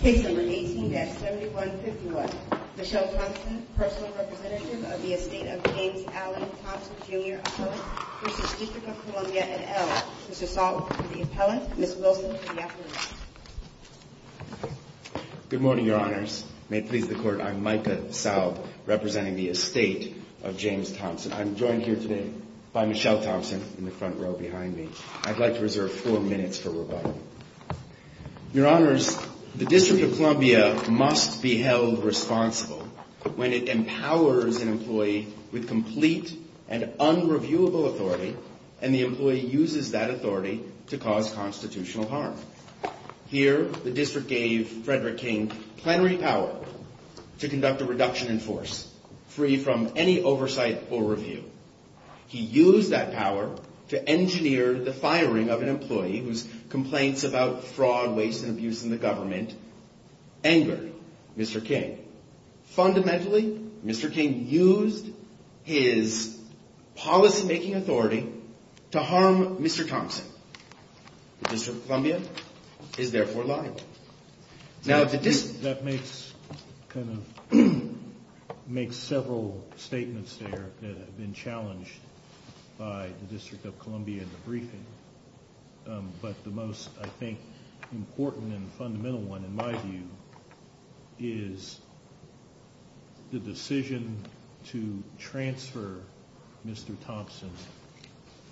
Case number 18-7151. Michelle Thompson, personal representative of the estate of James Alley Thompson Jr. Appellant v. District of Columbia et al. Mr. Saul for the appellant, Ms. Wilson for the affidavit. Good morning, Your Honors. May it please the Court, I'm Micah Saub representing the estate of James Thompson. I'm joined here today by Michelle Thompson in the front row behind me. I'd like to reserve four minutes for rebuttal. Your Honors, the District of Columbia must be held responsible when it empowers an employee with complete and unreviewable authority and the employee uses that authority to cause constitutional harm. Here, the District gave Frederick King plenary power to conduct a reduction in force free from any oversight or review. He used that power to engineer the firing of an employee whose complaints about fraud, waste, and abuse in the government angered Mr. King. Fundamentally, Mr. King used his policymaking authority to harm Mr. Thompson. The District of Columbia is therefore liable. That makes several statements there that have been challenged by the District of Columbia in the briefing, but the most, I think, important and fundamental one in my view is the decision to transfer Mr. Thompson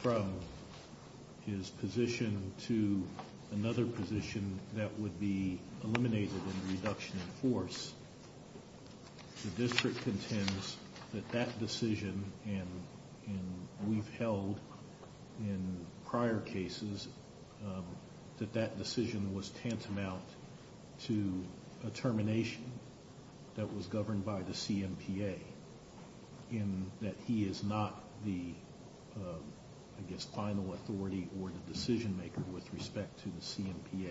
from his position to another position that would be eliminated in the reduction in force. The District contends that that decision, and we've held in prior cases, that that decision was tantamount to a termination that was governed by the CMPA, in that he is not the, I guess, final authority or the decision maker with respect to the CMPA.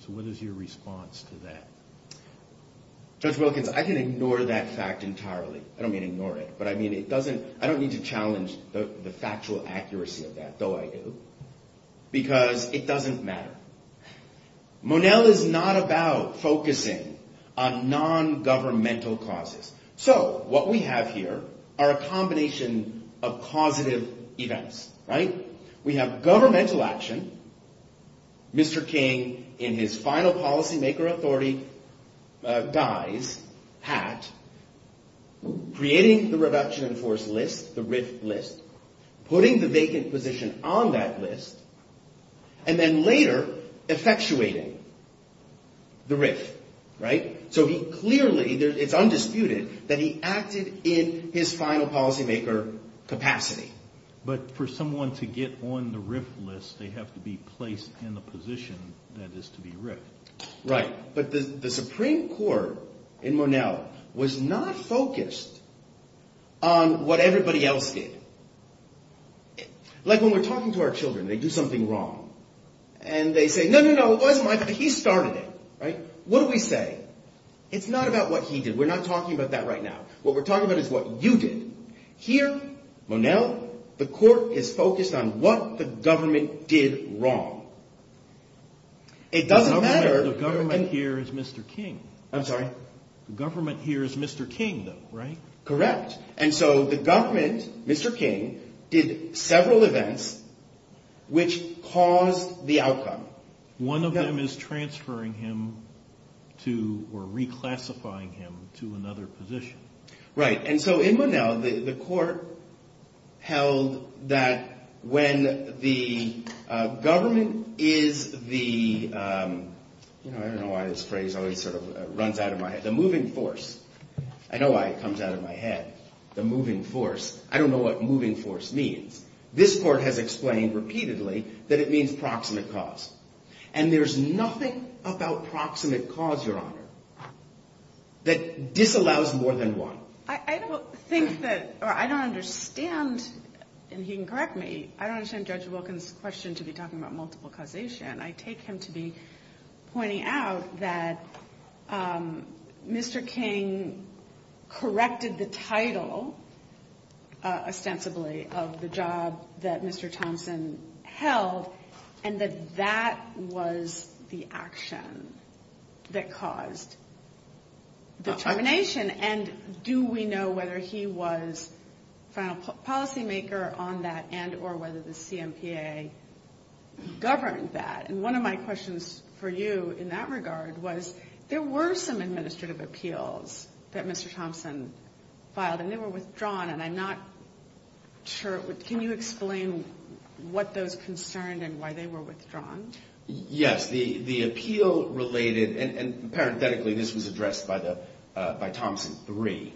So what is your response to that? Judge Wilkins, I can ignore that fact entirely. I don't mean ignore it, but I don't need to challenge the factual accuracy of that, though I do, because it doesn't matter. Monell is not about focusing on non-governmental causes. So what we have here are a combination of causative events. We have governmental action, Mr. King in his final policymaker authority dies, hat, creating the reduction in force list, the RIF list, putting the vacant position on that list, and then later effectuating the RIF, right? So he clearly, it's undisputed, that he acted in his final policymaker capacity. But for someone to get on the RIF list, they have to be placed in the position that is to be RIFed. Right. But the Supreme Court in Monell was not focused on what everybody else did. Like when we're talking to our children, they do something wrong, and they say, no, no, no, it wasn't my fault, he started it, right? What do we say? It's not about what he did. We're not talking about that right now. What we're talking about is what you did. Here, Monell, the court is focused on what the government did wrong. It doesn't matter. The government here is Mr. King. I'm sorry? The government here is Mr. King, though, right? Correct. And so the government, Mr. King, did several events which caused the outcome. One of them is transferring him to or reclassifying him to another position. Right. And so in Monell, the court held that when the government is the, I don't know why this phrase always sort of runs out of my head, the moving force. I know why it comes out of my head, the moving force. I don't know what moving force means. This court has explained repeatedly that it means proximate cause. And there's nothing about proximate cause, Your Honor, that disallows more than one. I don't think that, or I don't understand, and he can correct me, I don't understand Judge Wilkins' question to be talking about multiple causation. I take him to be pointing out that Mr. King corrected the title, ostensibly, of the job that Mr. Thompson held, and that that was the action that caused the termination. And do we know whether he was final policymaker on that, and or whether the CMPA governed that? And one of my questions for you in that regard was, there were some administrative appeals that Mr. Thompson filed, and they were withdrawn, and I'm not sure, can you explain what those concerned and why they were withdrawn? Yes, the appeal related, and parenthetically this was addressed by Thompson III,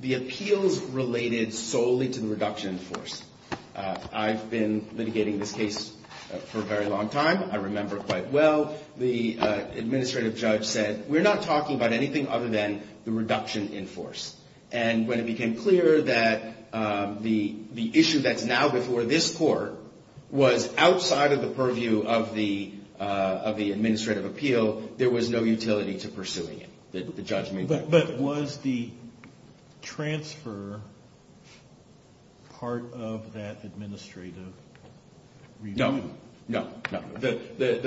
the appeals related solely to the reduction in force. I've been litigating this case for a very long time. I remember quite well the administrative judge said, we're not talking about anything other than the reduction in force. And when it became clear that the issue that's now before this court was outside of the purview of the administrative appeal, there was no utility to pursuing it. But was the transfer part of that administrative review? No, no, no. The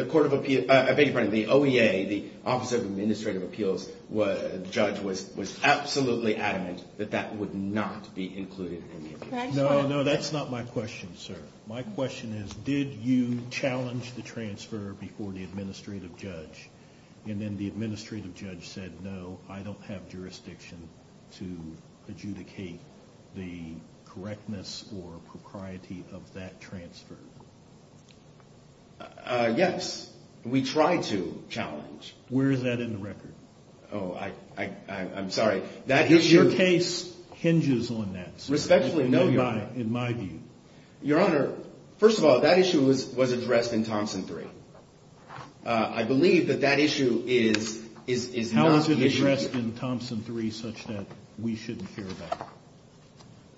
OEA, the Office of Administrative Appeals, the judge was absolutely adamant that that would not be included in the appeal. No, no, that's not my question, sir. My question is, did you challenge the transfer before the administrative judge, and then the administrative judge said, no, I don't have jurisdiction to adjudicate the correctness or propriety of that transfer? Yes, we tried to challenge. Where is that in the record? Oh, I'm sorry. Your case hinges on that. Respectfully, no, Your Honor. In my view. Your Honor, first of all, that issue was addressed in Thompson 3. I believe that that issue is not the issue here. How was it addressed in Thompson 3 such that we shouldn't care about it?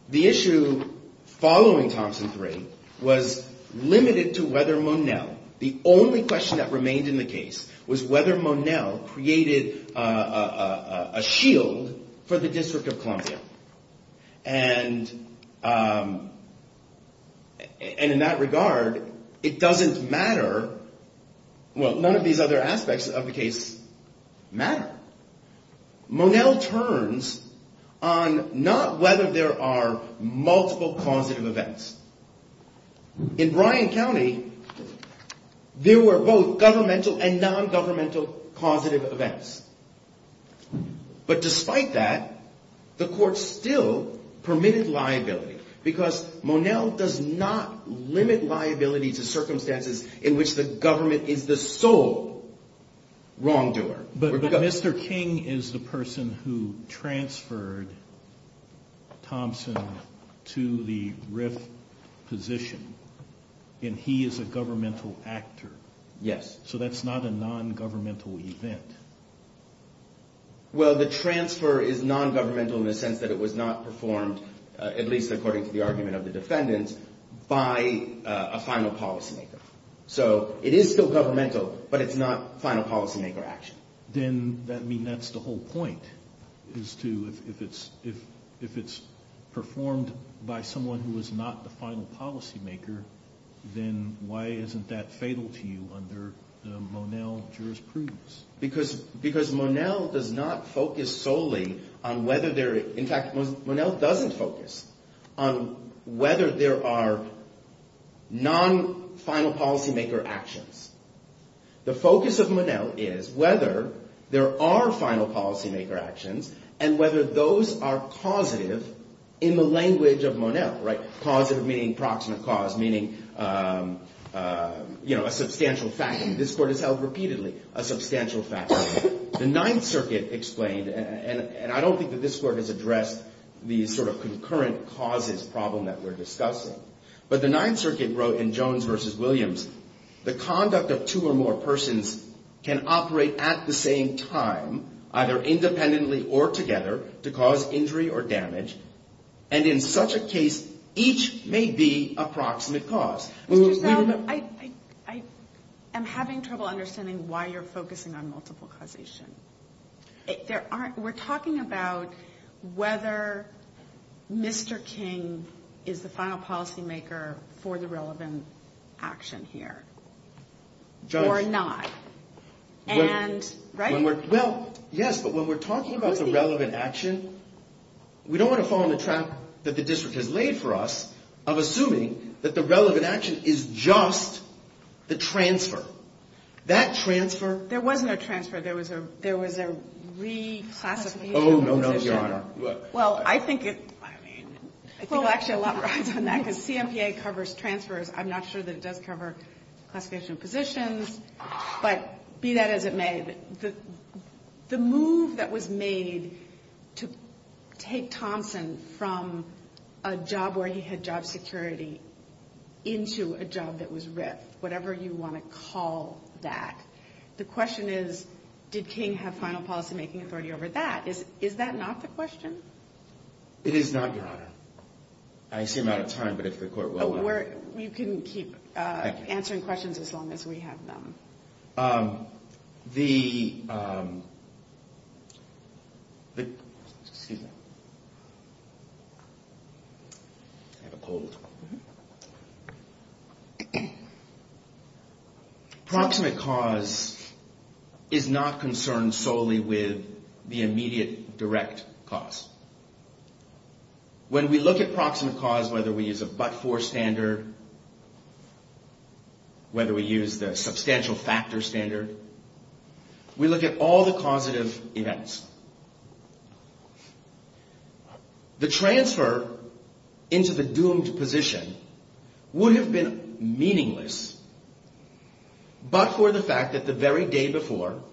The issue following Thompson 3 was limited to whether Monell, the only question that remained in the case, was whether Monell created a shield for the District of Columbia. And in that regard, it doesn't matter, well, none of these other aspects of the case matter. Monell turns on not whether there are multiple causative events. In Bryan County, there were both governmental and non-governmental causative events. But despite that, the court still permitted liability, because Monell does not limit liability to circumstances in which the government is the sole wrongdoer. But Mr. King is the person who transferred Thompson to the RIF position, and he is a governmental actor. Yes. So that's not a non-governmental event. Well, the transfer is non-governmental in the sense that it was not performed, at least according to the argument of the defendants, by a final policymaker. So it is still governmental, but it's not final policymaker action. Then that means that's the whole point, is to, if it's performed by someone who is not the final policymaker, then why isn't that fatal to you under the Monell jurisprudence? Because Monell does not focus solely on whether there are, in fact, Monell doesn't focus on whether there are non-final policymaker actions. The focus of Monell is whether there are final policymaker actions and whether those are causative in the language of Monell, right? The Ninth Circuit explained, and I don't think that this Court has addressed the sort of concurrent causes problem that we're discussing. But the Ninth Circuit wrote in Jones v. Williams, the conduct of two or more persons can operate at the same time, either independently or together, to cause injury or damage. And in such a case, each may be a proximate cause. Mr. Zeldin, I am having trouble understanding why you're focusing on multiple causation. We're talking about whether Mr. King is the final policymaker for the relevant action here or not. And, right? Well, yes, but when we're talking about the relevant action, we don't want to fall into the trap that the district has laid for us of assuming that the relevant action is just the transfer. That transfer... There wasn't a transfer. There was a reclassification of positions. Oh, no, no, Your Honor. Well, I think it... I mean, I think there's actually a lot of rides on that because CMPA covers transfers. I'm not sure that it does cover classification of positions, but be that as it may, the move that was made to take Thompson from a job where he had job security into a job that was RIF, whatever you want to call that, the question is, did King have final policymaking authority over that? Is that not the question? It is not, Your Honor. I seem out of time, but if the court will... You can keep answering questions as long as we have them. The... Excuse me. I have a cold. Proximate cause is not concerned solely with the immediate direct cause. When we look at proximate cause, whether we use a but-for standard, whether we use the substantial factor standard, we look at all the causative events. The transfer into the doomed position would have been meaningless but for the fact that the very day before,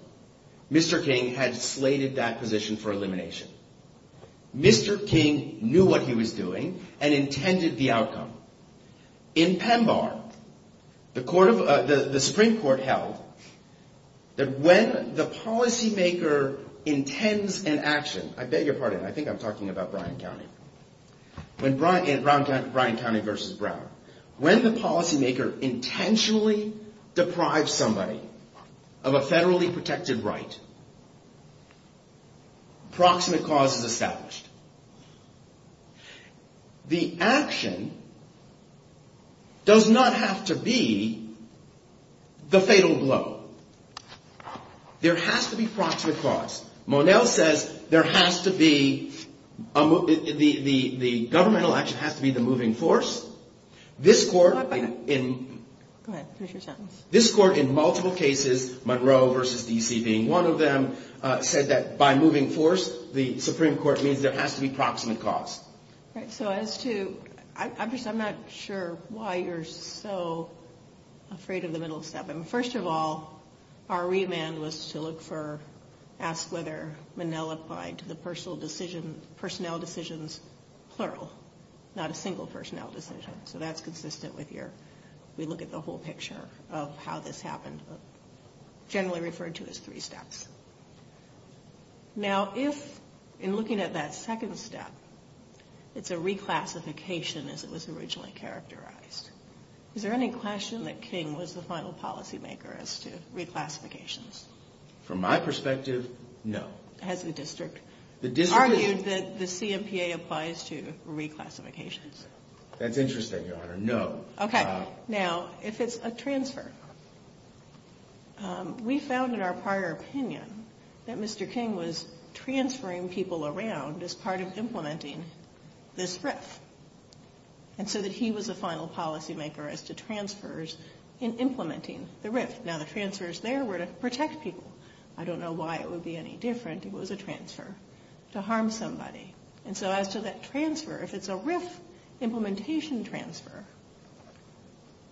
Mr. King had slated that position for elimination. Mr. King knew what he was doing and intended the outcome. In PEMBAR, the Supreme Court held that when the policymaker intends an action, I beg your pardon, I think I'm talking about Bryan County, Bryan County versus Brown. When the policymaker intentionally deprives somebody of a federally protected right, proximate cause is established. The action does not have to be the fatal blow. There has to be proximate cause. Monell says there has to be... The governmental action has to be the moving force. This court in multiple cases, Monroe versus D.C. being one of them, said that by moving force, the Supreme Court means there has to be proximate cause. So as to... I'm not sure why you're so afraid of the middle step. First of all, our remand was to look for... Ask whether Monell applied to the personnel decisions, plural, not a single personnel decision. So that's consistent with your... We look at the whole picture of how this happened, generally referred to as three steps. Now if, in looking at that second step, it's a reclassification as it was originally characterized, is there any question that King was the final policymaker as to reclassifications? From my perspective, no. Has the district argued that the CMPA applies to reclassifications? That's interesting, Your Honor, no. Okay. Now, if it's a transfer. We found in our prior opinion that Mr. King was transferring people around as part of implementing this RIF. And so that he was the final policymaker as to transfers in implementing the RIF. Now the transfers there were to protect people. I don't know why it would be any different if it was a transfer to harm somebody. And so as to that transfer, if it's a RIF implementation transfer,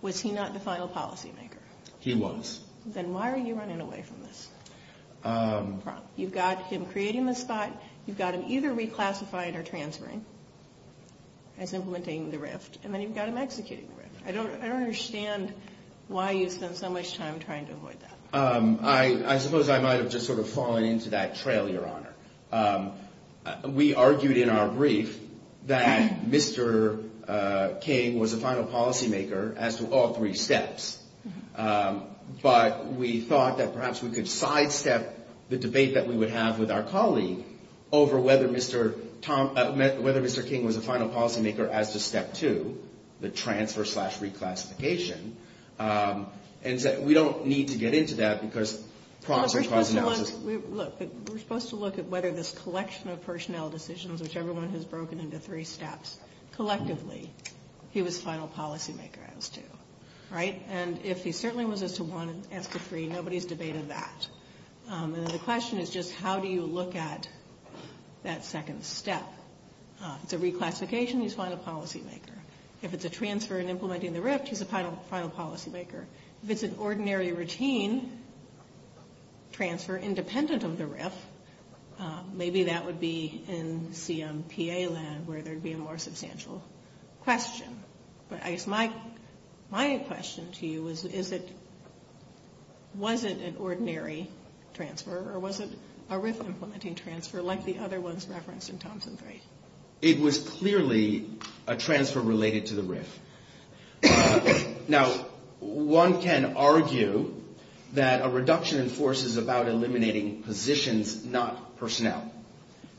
was he not the final policymaker? He was. Then why are you running away from this? You've got him creating the spot. You've got him either reclassifying or transferring as implementing the RIF. And then you've got him executing the RIF. I don't understand why you spend so much time trying to avoid that. I suppose I might have just sort of fallen into that trail, Your Honor. We argued in our brief that Mr. King was the final policymaker as to all three steps. But we thought that perhaps we could sidestep the debate that we would have with our colleague over whether Mr. King was the final policymaker as to step two, the transfer slash reclassification. And so we don't need to get into that because prompts or trials analysis. We're supposed to look at whether this collection of personnel decisions, which everyone has broken into three steps, collectively, he was final policymaker as to. And if he certainly was as to one, as to three, nobody's debated that. The question is just how do you look at that second step? If it's a reclassification, he's final policymaker. If it's a transfer and implementing the RIF, he's a final policymaker. If it's an ordinary routine transfer independent of the RIF, maybe that would be in CMPA land where there would be a more substantial question. But I guess my question to you is, was it an ordinary transfer or was it a RIF implementing transfer like the other ones referenced in Thompson 3? It was clearly a transfer related to the RIF. Now, one can argue that a reduction in force is about eliminating positions, not personnel.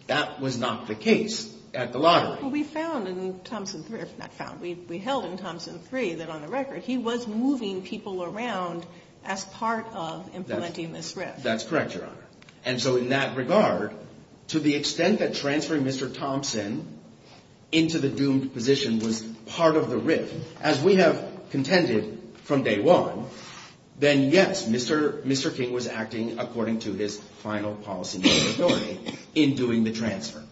That was not the case at the lottery. We found in Thompson 3, not found, we held in Thompson 3 that on the record, he was moving people around as part of implementing this RIF. That's correct, Your Honor. And so in that regard, to the extent that transferring Mr. Thompson into the doomed position was part of the RIF, as we have contended from day one, then yes, Mr. King was acting according to his final policymaking ability in doing the transfer.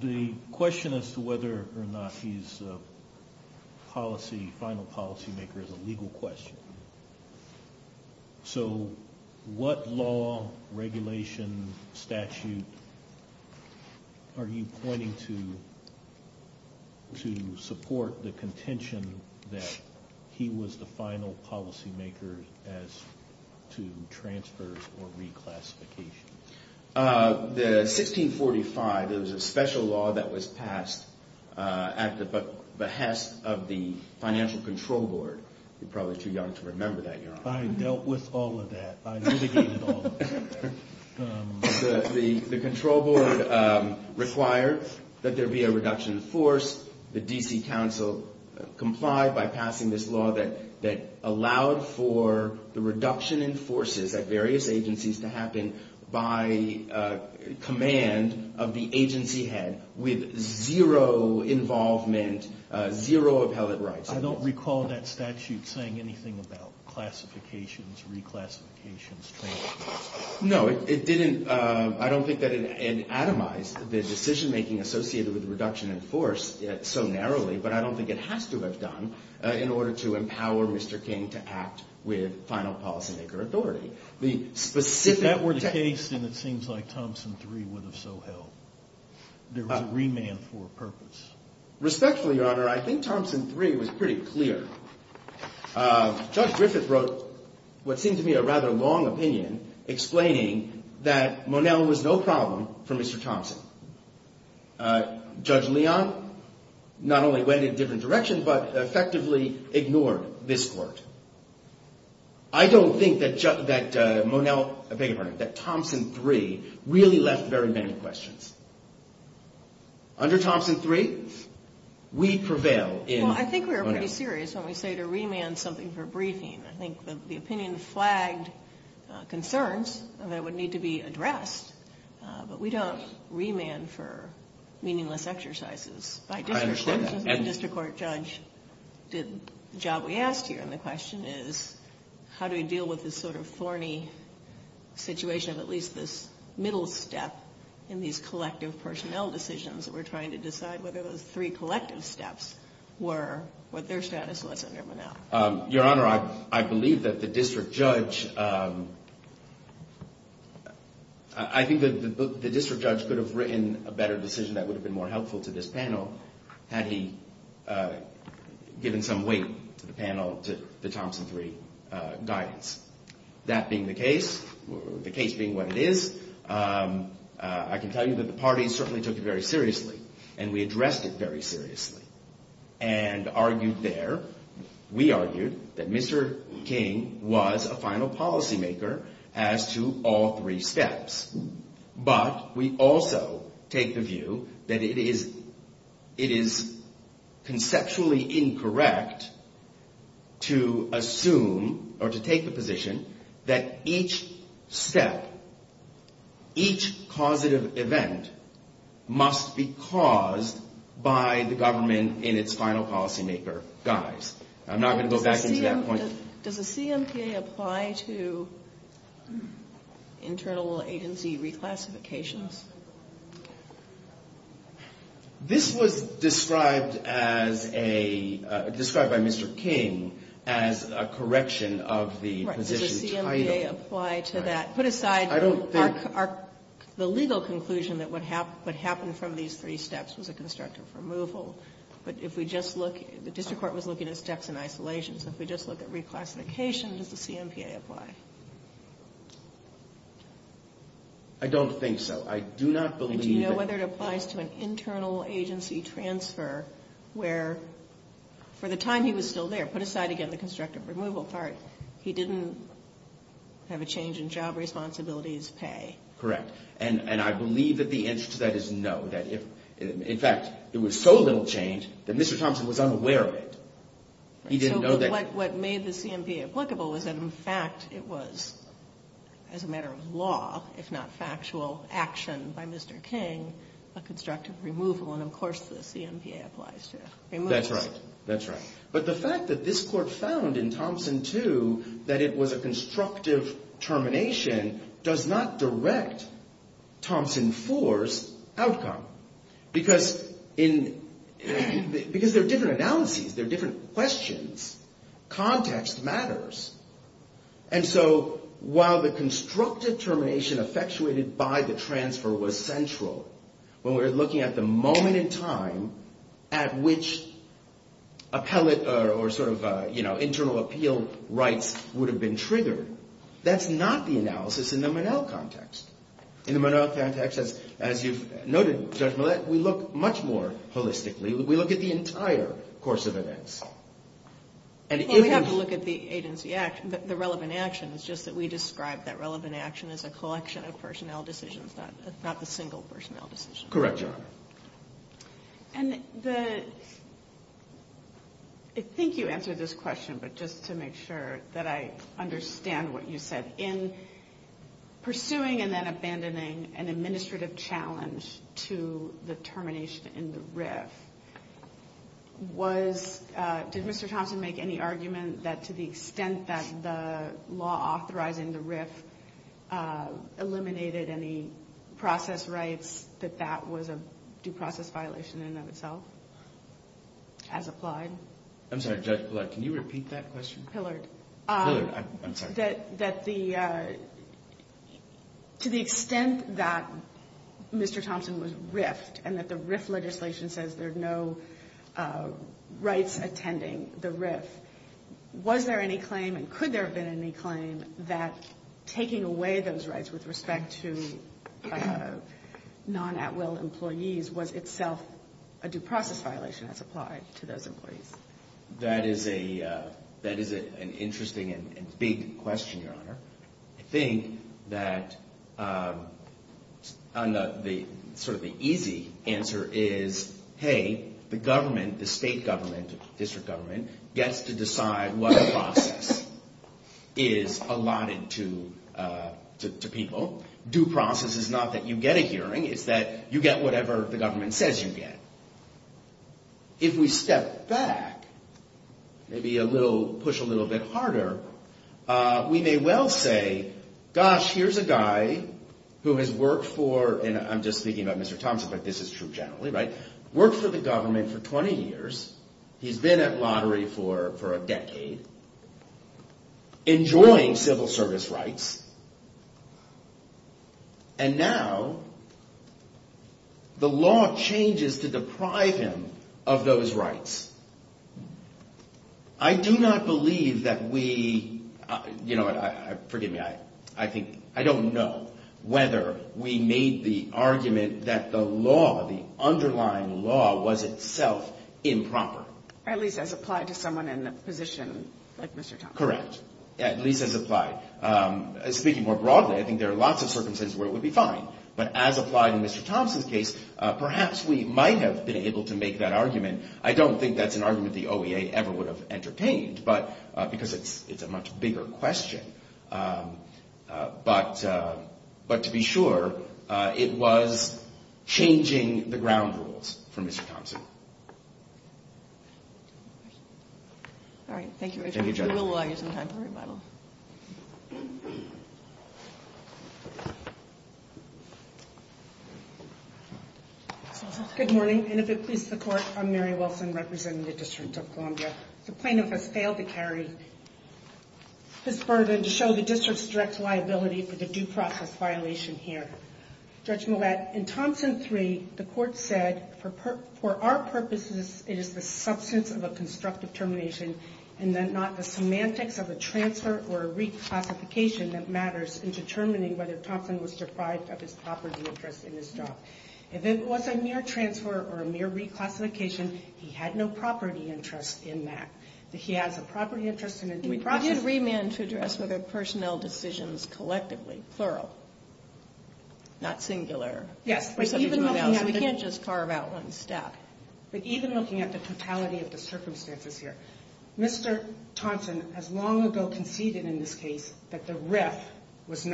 The question as to whether or not he's a policy, final policymaker is a legal question. So what law, regulation, statute are you pointing to to support the contention that he was the final policymaker as to transfers or reclassification? The 1645, there was a special law that was passed at the behest of the financial control board. You're probably too young to remember that, Your Honor. I dealt with all of that. I litigated all of it. The control board required that there be a reduction in force. The D.C. Council complied by passing this law that allowed for the reduction in forces at various agencies to happen by command of the agency head with zero involvement, zero appellate rights. I don't recall that statute saying anything about classifications, reclassifications, transfers. No, it didn't. I don't think that it atomized the decision-making associated with the reduction in force so narrowly, but I don't think it has to have done in order to empower Mr. King to act with final policymaker authority. If that were the case, then it seems like Thompson III would have so held. There was a remand for a purpose. Respectfully, Your Honor, I think Thompson III was pretty clear. Judge Griffith wrote what seemed to me a rather long opinion explaining that Monell was no problem for Mr. Thompson. Judge Leon not only went in a different direction but effectively ignored this court. I don't think that Thompson III really left very many questions. Under Thompson III, we prevail in Monell. Well, I think we were pretty serious when we say to remand something for briefing. I think the opinion flagged concerns that would need to be addressed, but we don't remand for meaningless exercises. I understand that. The district court judge did the job we asked here, and the question is how do we deal with this sort of thorny situation of at least this middle step in these collective personnel decisions that we're trying to decide whether those three collective steps were what their status was under Monell? Your Honor, I believe that the district judge could have written a better decision that would have been more helpful to this panel had he given some weight to the panel to the Thompson III guidance. That being the case, the case being what it is, I can tell you that the parties certainly took it very seriously, and we addressed it very seriously and argued there. We argued that Mr. King was a final policymaker as to all three steps, but we also take the view that it is conceptually incorrect to assume or to take the position that each step, each causative event must be caused by the government in its final policymaker guise. I'm not going to go back into that point. Does the CMPA apply to internal agency reclassifications? This was described as a, described by Mr. King as a correction of the position title. Does the CMPA apply to that? Put aside the legal conclusion that what happened from these three steps was a constructive removal, but if we just look, the district court was looking at steps in isolation, so if we just look at reclassification, does the CMPA apply? I don't think so. I do not believe that. Do you know whether it applies to an internal agency transfer where, for the time he was still there, put aside again the constructive removal part, he didn't have a change in job responsibilities pay? Correct. And I believe that the answer to that is no. In fact, it was so little change that Mr. Thompson was unaware of it. He didn't know that. What made the CMPA applicable was that, in fact, it was, as a matter of law, if not factual action by Mr. King, a constructive removal, and of course the CMPA applies to it. That's right. That's right. But the fact that this court found in Thompson 2 that it was a constructive termination does not direct Thompson 4's outcome. Because there are different analyses. There are different questions. Context matters. And so while the constructive termination effectuated by the transfer was central, when we were looking at the moment in time at which appellate or sort of, you know, internal appeal rights would have been triggered, that's not the analysis in the Monell context. In the Monell context, as you've noted, Judge Millett, we look much more holistically. We look at the entire course of events. We have to look at the relevant action. It's just that we describe that relevant action as a collection of personnel decisions, not the single personnel decision. Correct, Your Honor. And I think you answered this question, but just to make sure that I understand what you said. In pursuing and then abandoning an administrative challenge to the termination in the RIF, did Mr. Thompson make any argument that to the extent that the law authorizing the RIF eliminated any process rights, that that was a due process violation in and of itself as applied? I'm sorry, Judge Millett, can you repeat that question? Pillard. I'm sorry. That to the extent that Mr. Thompson was RIF'd and that the RIF legislation says there are no rights attending the RIF, was there any claim and could there have been any claim that taking away those rights with respect to non-at-will employees was itself a due process violation as applied to those employees? That is an interesting and big question, Your Honor. I think that sort of the easy answer is, hey, the government, the state government, district government, gets to decide what process is allotted to people. Due process is not that you get a hearing. It's that you get whatever the government says you get. If we step back, maybe push a little bit harder, we may well say, gosh, here's a guy who has worked for, and I'm just thinking about Mr. Thompson, but this is true generally, right? Worked for the government for 20 years. He's been at lottery for a decade. Enjoying civil service rights. And now the law changes to deprive him of those rights. I do not believe that we, you know, forgive me, I think, I don't know whether we made the argument that the law, the underlying law was itself improper. At least as applied to someone in a position like Mr. Thompson. Correct. At least as applied. Speaking more broadly, I think there are lots of circumstances where it would be fine. But as applied in Mr. Thompson's case, perhaps we might have been able to make that argument. I don't think that's an argument the OEA ever would have entertained. But because it's a much bigger question. But to be sure, it was changing the ground rules for Mr. Thompson. All right. Thank you. Thank you, Judge. We will allow you some time for rebuttal. Good morning. And if it pleases the Court, I'm Mary Wilson representing the District of Columbia. The plaintiff has failed to carry his burden to show the District's direct liability for the due process violation here. Judge Millett, in Thompson 3, the Court said, for our purposes it is the substance of a constructive termination and not the semantics of a transfer or a reclassification that matters in determining whether Thompson was deprived of his property interest in his job. If it was a mere transfer or a mere reclassification, he had no property interest in that. He has a property interest in a due process violation. We did remand to address whether personnel decisions collectively, plural, not singular. Yes. We can't just carve out one step. But even looking at the totality of the circumstances here, Mr. Thompson has long ago conceded in this case that the RIF was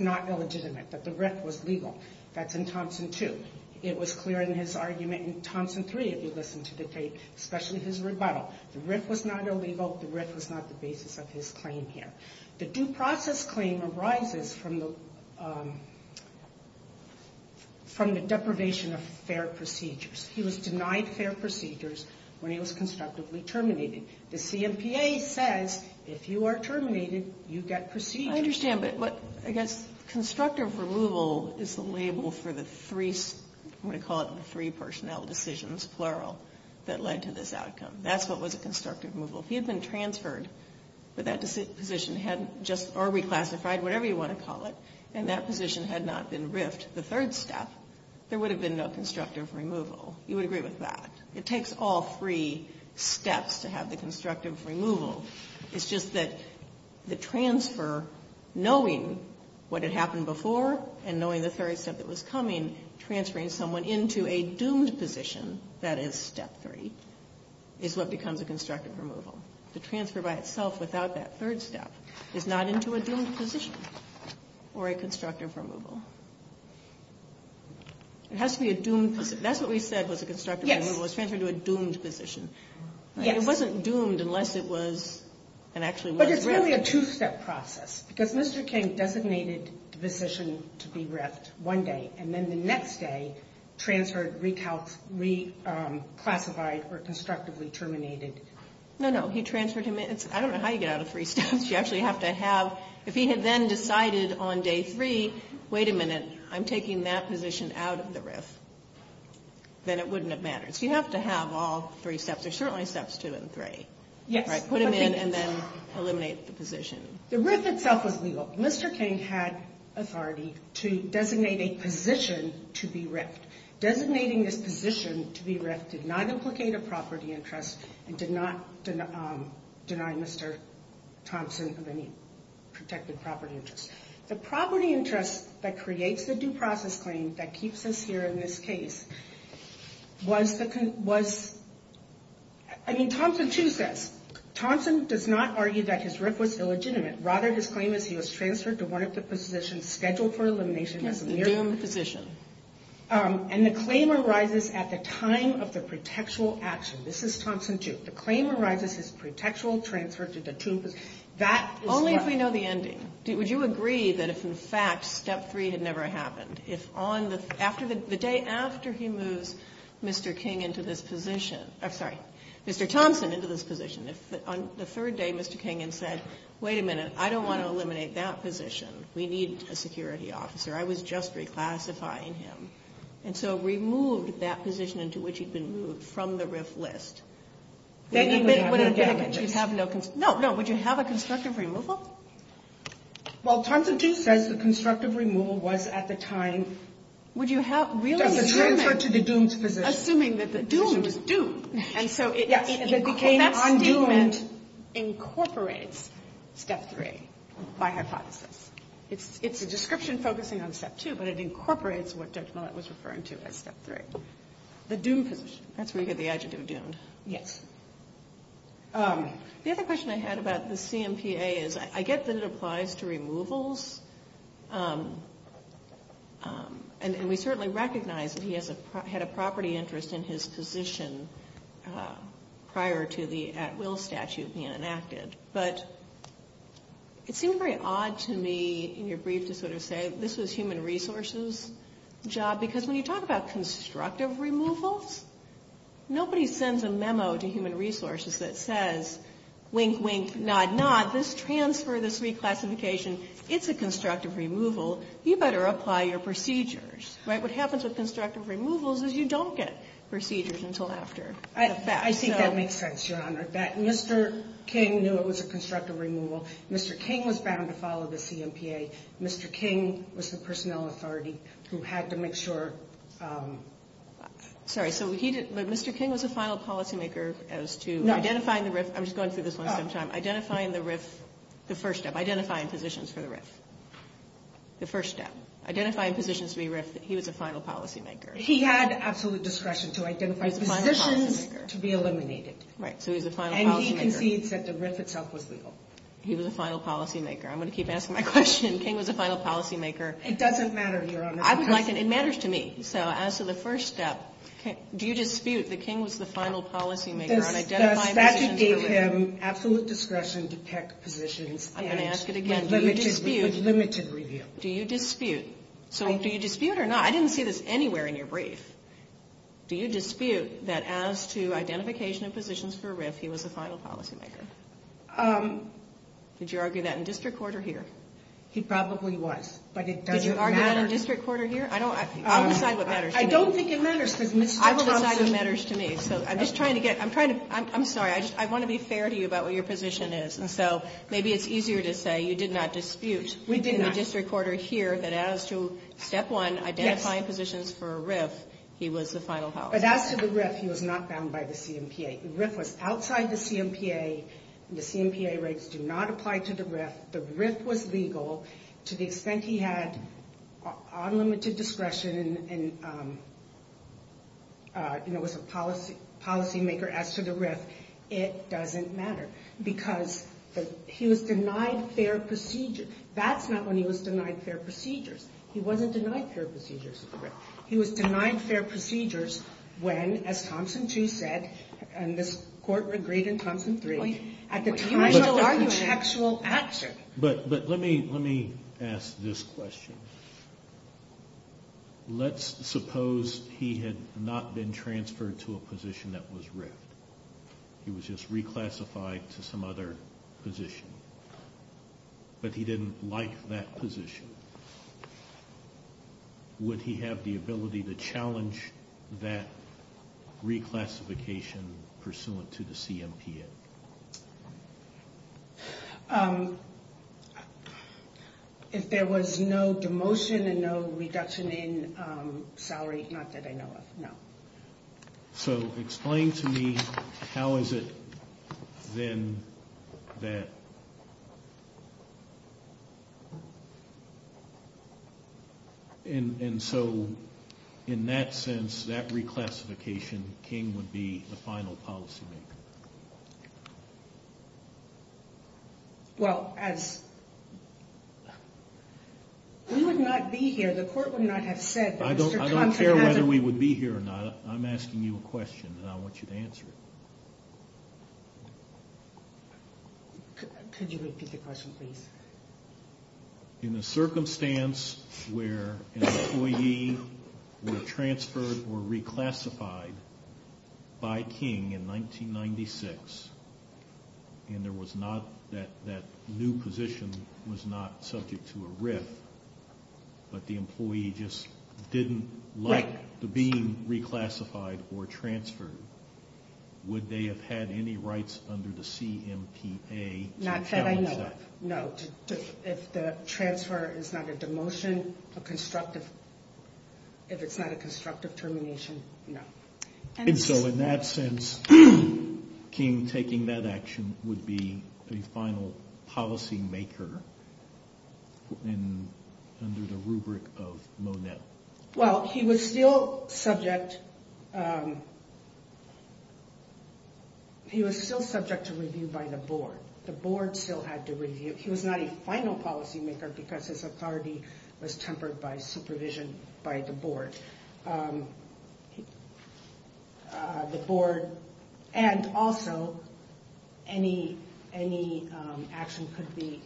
not illegitimate, that the RIF was legal. That's in Thompson 2. It was clear in his argument in Thompson 3, if you listen to the case, especially his rebuttal. The RIF was not illegal. The RIF was not the basis of his claim here. The due process claim arises from the deprivation of fair procedures. He was denied fair procedures when he was constructively terminated. The CMPA says if you are terminated, you get procedures. I understand, but I guess constructive removal is the label for the three, I'm going to call it the three personnel decisions, plural, that led to this outcome. That's what was a constructive removal. If he had been transferred, but that position had just, or reclassified, whatever you want to call it, and that position had not been RIF'd, the third step, there would have been no constructive removal. You would agree with that. It takes all three steps to have the constructive removal. It's just that the transfer, knowing what had happened before and knowing the third step that was coming, transferring someone into a doomed position, that is step three, is what becomes a constructive removal. The transfer by itself without that third step is not into a doomed position or a constructive removal. It has to be a doomed position. That's what we said was a constructive removal, was transferred to a doomed position. It wasn't doomed unless it was and actually was RIF'd. But it's really a two-step process, because Mr. King designated the position to be RIF'd one day, and then the next day transferred, reclassified, or constructively terminated. No, no. He transferred him in. I don't know how you get out of three steps. You actually have to have, if he had then decided on day three, wait a minute, I'm taking that position out of the RIF, then it wouldn't have mattered. So you have to have all three steps. There are certainly steps two and three. Yes. Put him in and then eliminate the position. The RIF itself was legal. Mr. King had authority to designate a position to be RIF'd. Designating this position to be RIF'd did not implicate a property interest and did not deny Mr. Thompson of any protected property interest. The property interest that creates the due process claim that keeps us here in this case was the, was, I mean, Thompson does not argue that his RIF was illegitimate. Rather, his claim is he was transferred to one of the positions scheduled for elimination as a mere- The doomed position. And the claim arises at the time of the protectural action. This is Thompson 2. The claim arises his protectural transfer to the doomed position. That is- Only if we know the ending. Would you agree that if, in fact, step three had never happened, if on the, after the, the day after he moves Mr. King into this position, I'm sorry, Mr. Thompson into this position, if on the third day Mr. King had said, wait a minute, I don't want to eliminate that position. We need a security officer. I was just reclassifying him. And so removed that position into which he'd been moved from the RIF list. Then you would have no damages. No, no. Would you have a constructive removal? Well, Thompson 2 says the constructive removal was at the time- Would you have- The transfer to the doomed position. Assuming that the doomed position was doomed. And so that statement incorporates step three by hypothesis. It's a description focusing on step two, but it incorporates what Judge Millett was referring to as step three. The doomed position. That's where you get the adjective doomed. Yes. The other question I had about the CMPA is I get that it applies to removals. And we certainly recognize that he had a property interest in his position prior to the at-will statute being enacted. But it seemed very odd to me in your brief to sort of say this was human resources job, because when you talk about constructive removals, nobody sends a memo to human resources that says wink, wink, nod, nod. This transfer, this reclassification, it's a constructive removal. You better apply your procedures. Right? What happens with constructive removals is you don't get procedures until after the fact. I think that makes sense, Your Honor. That Mr. King knew it was a constructive removal. Mr. King was bound to follow the CMPA. Mr. King was the personnel authority who had to make sure. Sorry. So Mr. King was a final policymaker as to identifying the RIF. I'm just going through this one at the same time. Identifying the RIF, the first step, identifying positions for the RIF, the first step. Identifying positions to be RIF, he was a final policymaker. He had absolute discretion to identify positions to be eliminated. Right. So he was a final policymaker. And he concedes that the RIF itself was legal. He was a final policymaker. I'm going to keep asking my question. King was a final policymaker. It doesn't matter, Your Honor. It matters to me. So as to the first step, do you dispute that King was the final policymaker on identifying positions for RIF? The statute gave him absolute discretion to pick positions. I'm going to ask it again. Do you dispute? With limited review. Do you dispute? So do you dispute or not? I didn't see this anywhere in your brief. Do you dispute that as to identification of positions for RIF, he was a final policymaker? Did you argue that in district court or here? He probably was. But it doesn't matter. Did you argue that in district court or here? I'll decide what matters to me. I don't think it matters. I'll decide what matters to me. So I'm just trying to get. I'm trying to. I'm sorry. I want to be fair to you about what your position is. And so maybe it's easier to say you did not dispute. We did not. In the district court or here that as to step one, identifying positions for RIF, he was the final policymaker. But as to the RIF, he was not bound by the CMPA. RIF was outside the CMPA. The CMPA rates do not apply to the RIF. The RIF was legal to the extent he had unlimited discretion and was a policymaker as to the RIF. It doesn't matter. Because he was denied fair procedure. That's not when he was denied fair procedures. He wasn't denied fair procedures at the RIF. He was denied fair procedures when, as Thompson 2 said, and this court agreed in Thompson 3, at the time of the contextual action. But let me ask this question. Let's suppose he had not been transferred to a position that was RIF. He was just reclassified to some other position. But he didn't like that position. Would he have the ability to challenge that reclassification pursuant to the CMPA? If there was no demotion and no reduction in salary, not that I know of, no. So explain to me how is it then that, and so in that sense, that reclassification, King would be the final policymaker. Well, as, we would not be here. The court would not have said that. I don't care whether we would be here or not. I'm asking you a question, and I want you to answer it. Could you repeat the question, please? In a circumstance where an employee were transferred or reclassified by King in 1996, and there was not, that new position was not subject to a RIF, but the employee just didn't like being reclassified or transferred, would they have had any rights under the CMPA to challenge that? Not that I know of, no. If the transfer is not a demotion, a constructive, if it's not a constructive termination, no. And so in that sense, King taking that action would be the final policymaker under the rubric of MONET. Well, he was still subject, he was still subject to review by the board. The board still had to review. He was not a final policymaker because his authority was tempered by supervision by the board. And also, any action could be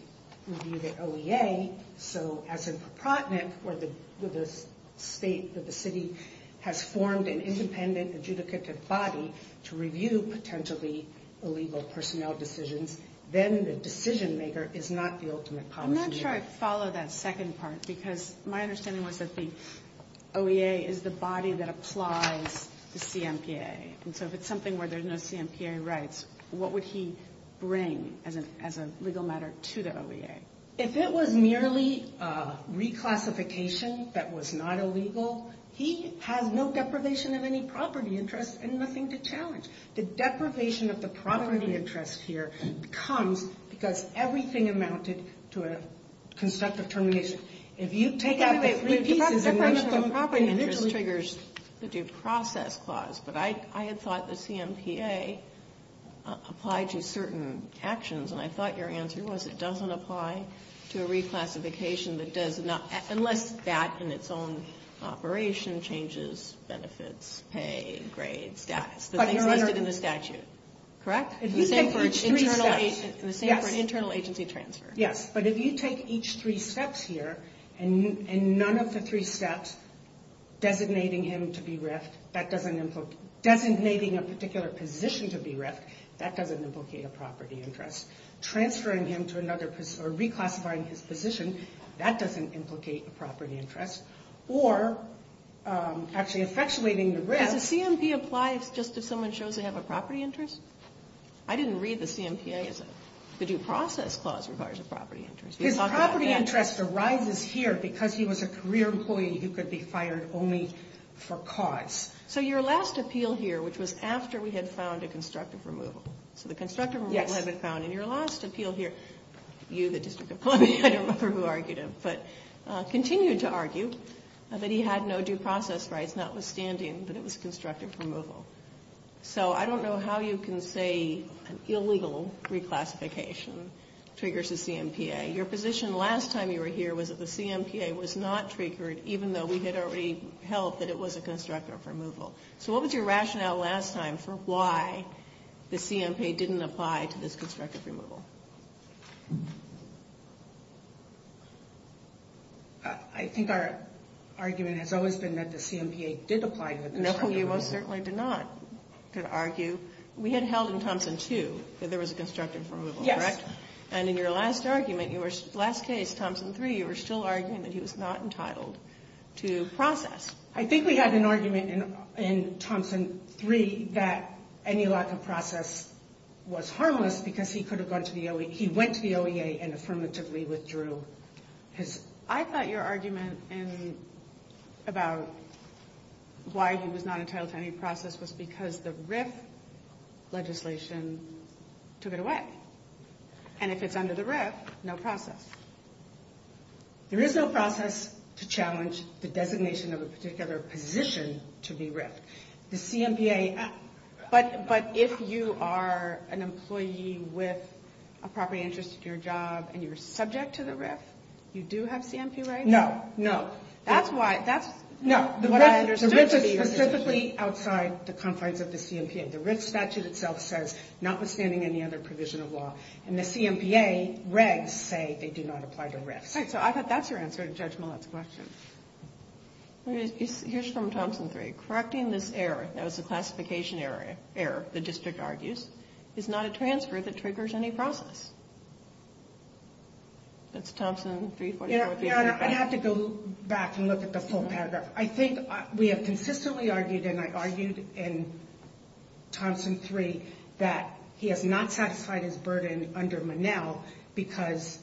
reviewed at OEA. So as a proponent for the state that the city has formed an independent adjudicative body to review potentially illegal personnel decisions, then the decision-maker is not the ultimate policymaker. I'm not sure I follow that second part, because my understanding was that the OEA is the body that applies the CMPA. And so if it's something where there's no CMPA rights, what would he bring as a legal matter to the OEA? If it was merely reclassification that was not illegal, he has no deprivation of any property interests and nothing to challenge. The deprivation of the property interest here comes because everything amounted to a constructive termination. If you take out the three pieces and mention the property interest... The deprivation of the property interest triggers the due process clause, but I had thought the CMPA applied to certain actions, and I thought your answer was it doesn't apply to a reclassification that does not... unless that in its own operation changes benefits, pay, grades, status. The things listed in the statute, correct? The same for an internal agency transfer. Yes, but if you take each three steps here, and none of the three steps designating him to be RIFT, that doesn't implicate... designating a particular position to be RIFT, that doesn't implicate a property interest. Transferring him to another... or reclassifying his position, that doesn't implicate a property interest. Or actually effectuating the RIFT... Does the CMPA apply just if someone shows they have a property interest? I didn't read the CMPA as a... the due process clause requires a property interest. His property interest arises here because he was a career employee who could be fired only for cause. So your last appeal here, which was after we had found a constructive removal, so the constructive removal had been found in your last appeal here, you, the district employee, I don't remember who argued him, but continued to argue that he had no due process rights, notwithstanding that it was constructive removal. So I don't know how you can say an illegal reclassification triggers the CMPA. Your position last time you were here was that the CMPA was not triggered, even though we had already held that it was a constructive removal. So what was your rationale last time for why the CMPA didn't apply to this constructive removal? I think our argument has always been that the CMPA did apply to it. No, you most certainly did not. You could argue we had held in Thompson 2 that there was a constructive removal, correct? Yes. And in your last argument, your last case, Thompson 3, you were still arguing that he was not entitled to process. I think we had an argument in Thompson 3 that any lack of process was harmless because he went to the OEA and affirmatively withdrew his... I thought your argument about why he was not entitled to any process was because the RIF legislation took it away. And if it's under the RIF, no process. There is no process to challenge the designation of a particular position to be RIF. The CMPA... But if you are an employee with a property interest in your job and you're subject to the RIF, you do have CMPA rights? No, no. That's what I understood to be your position. The RIF is specifically outside the confines of the CMPA. The RIF statute itself says notwithstanding any other provision of law. And the CMPA regs say they do not apply to RIFs. All right. So I thought that's your answer to Judge Millett's question. Here's from Thompson 3. Correcting this error, that was a classification error, the district argues, is not a transfer that triggers any process. That's Thompson 344... Your Honor, I'd have to go back and look at the full paragraph. I think we have consistently argued, and I argued in Thompson 3, that he has not satisfied his burden under Monell because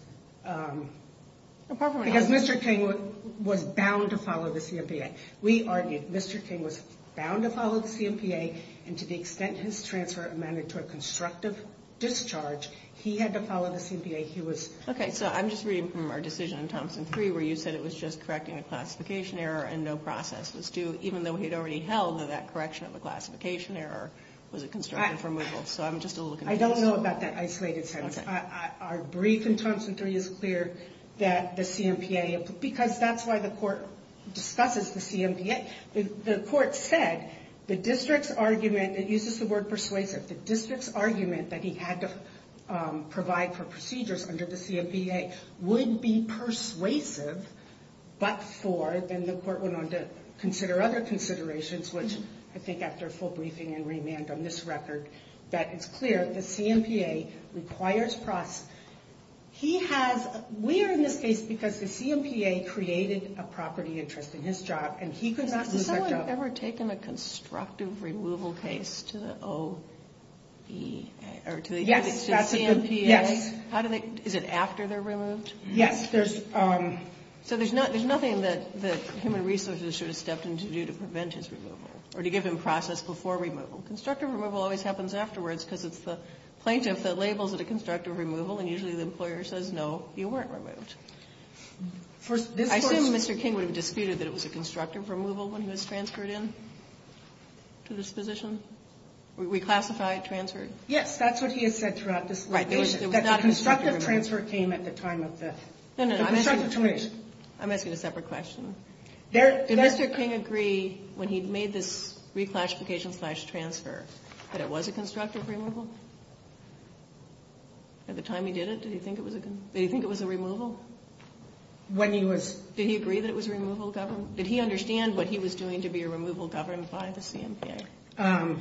Mr. King was bound to follow the CMPA. We argued Mr. King was bound to follow the CMPA, and to the extent his transfer amounted to a constructive discharge, he had to follow the CMPA. Okay, so I'm just reading from our decision in Thompson 3 where you said it was just correcting a classification error and no process was due, even though he had already held that that correction of the classification error was a constructive removal. I don't know about that isolated sentence. Our brief in Thompson 3 is clear that the CMPA... Because that's why the court discusses the CMPA. The court said the district's argument, it uses the word persuasive, the district's argument that he had to provide for procedures under the CMPA would be persuasive, but for, then the court went on to consider other considerations, which I think after a full briefing and remand on this record, that it's clear the CMPA requires process. He has... We are in this case because the CMPA created a property interest in his job, and he could not... Has someone ever taken a constructive removal case to the OEA or to the CMPA? Yes, that's a good... How do they... Is it after they're removed? Yes, there's... So there's nothing that human resources should have stepped in to do to prevent his removal or to give him process before removal. Constructive removal always happens afterwards because it's the plaintiff that labels it a constructive removal, and usually the employer says, no, you weren't removed. I assume Mr. King would have disputed that it was a constructive removal when he was transferred in to this position? We classify it transferred? Yes, that's what he has said throughout this litigation. That the constructive transfer came at the time of the... No, no, I'm asking... The constructive termination. I'm asking a separate question. Did Mr. King agree when he made this reclassification-slash-transfer that it was a constructive removal? At the time he did it, did he think it was a removal? When he was... Did he agree that it was a removal of government? Did he understand what he was doing to be a removal governed by the CMPA?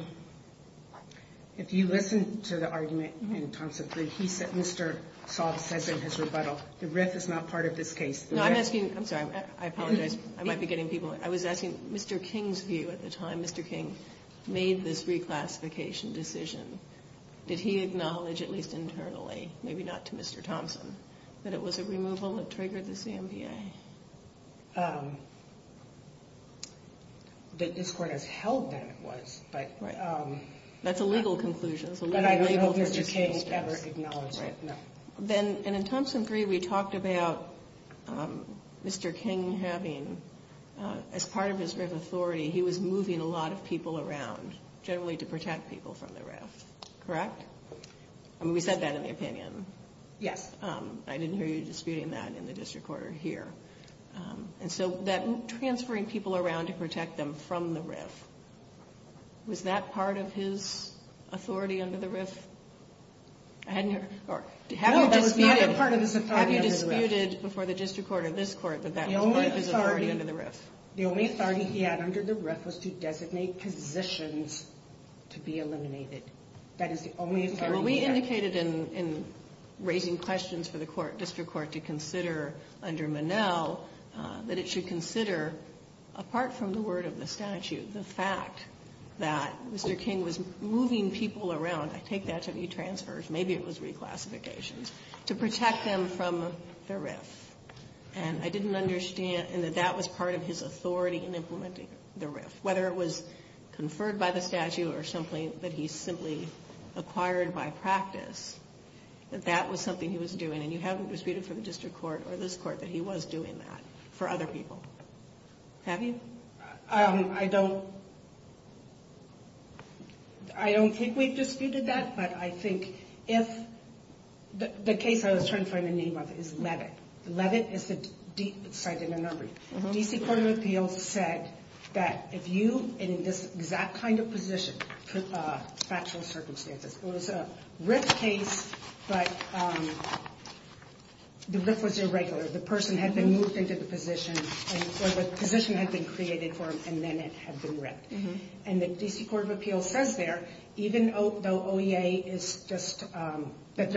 If you listen to the argument in terms of... He said... Mr. Saab says in his rebuttal, the RIF is not part of this case. No, I'm asking... I'm sorry, I apologize. I might be getting people... I was asking Mr. King's view at the time. Mr. King made this reclassification decision. Did he acknowledge, at least internally, maybe not to Mr. Thompson, that it was a removal that triggered the CMPA? That this Court has held that it was, but... Right. That's a legal conclusion. But I don't know if Mr. King will ever acknowledge it. Right. And in Thompson 3, we talked about Mr. King having... As part of his RIF authority, he was moving a lot of people around, generally to protect people from the RIF. Correct? I mean, we said that in the opinion. Yes. I didn't hear you disputing that in the District Court or here. And so, transferring people around to protect them from the RIF, was that part of his authority under the RIF? I hadn't heard... No, it was not a part of his authority under the RIF. Have you disputed before the District Court or this Court that that was part of his authority under the RIF? The only authority he had under the RIF was to designate positions to be eliminated. That is the only authority he had. Well, we indicated in raising questions for the District Court to consider under Monell, that it should consider, apart from the word of the statute, the fact that Mr. King was moving people around. I take that to be transfers. Maybe it was reclassifications. To protect them from the RIF. And I didn't understand that that was part of his authority in implementing the RIF. Whether it was conferred by the statute or something that he simply acquired by practice, that that was something he was doing. And you haven't disputed for the District Court or this Court that he was doing that for other people. Have you? I don't... I don't think we've disputed that, but I think if... The case I was trying to find the name of is Levitt. Levitt is the site in the number. D.C. Court of Appeals said that if you, in this exact kind of position, put factual circumstances. It was a RIF case, but the RIF was irregular. The person had been moved into the position, or the position had been created for them, and then it had been RIFed. And the D.C. Court of Appeals says there, even though OEA is just... That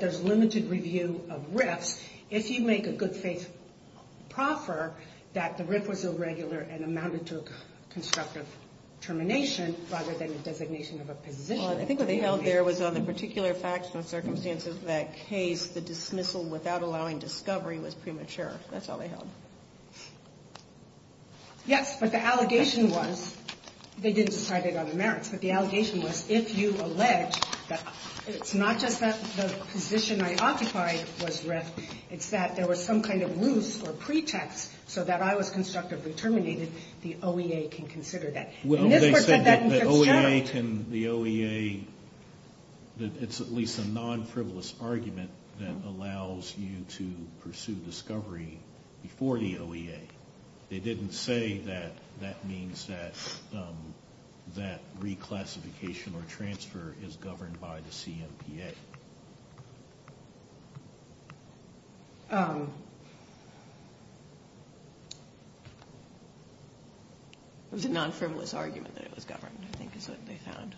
there's limited review of RIFs. If you make a good faith proffer that the RIF was irregular and amounted to a constructive termination, rather than a designation of a position. I think what they held there was on the particular facts and circumstances of that case, the dismissal without allowing discovery was premature. That's all they held. Yes, but the allegation was, they didn't decide it on the merits, but the allegation was, if you allege that it's not just that the position I occupied was RIF, it's that there was some kind of ruse or pretext so that I was constructively terminated, the OEA can consider that. Well, they said that OEA can, the OEA, that it's at least a non-frivolous argument that allows you to pursue discovery before the OEA. They didn't say that that means that reclassification or transfer is governed by the CMPA. It was a non-frivolous argument that it was governed, I think is what they found.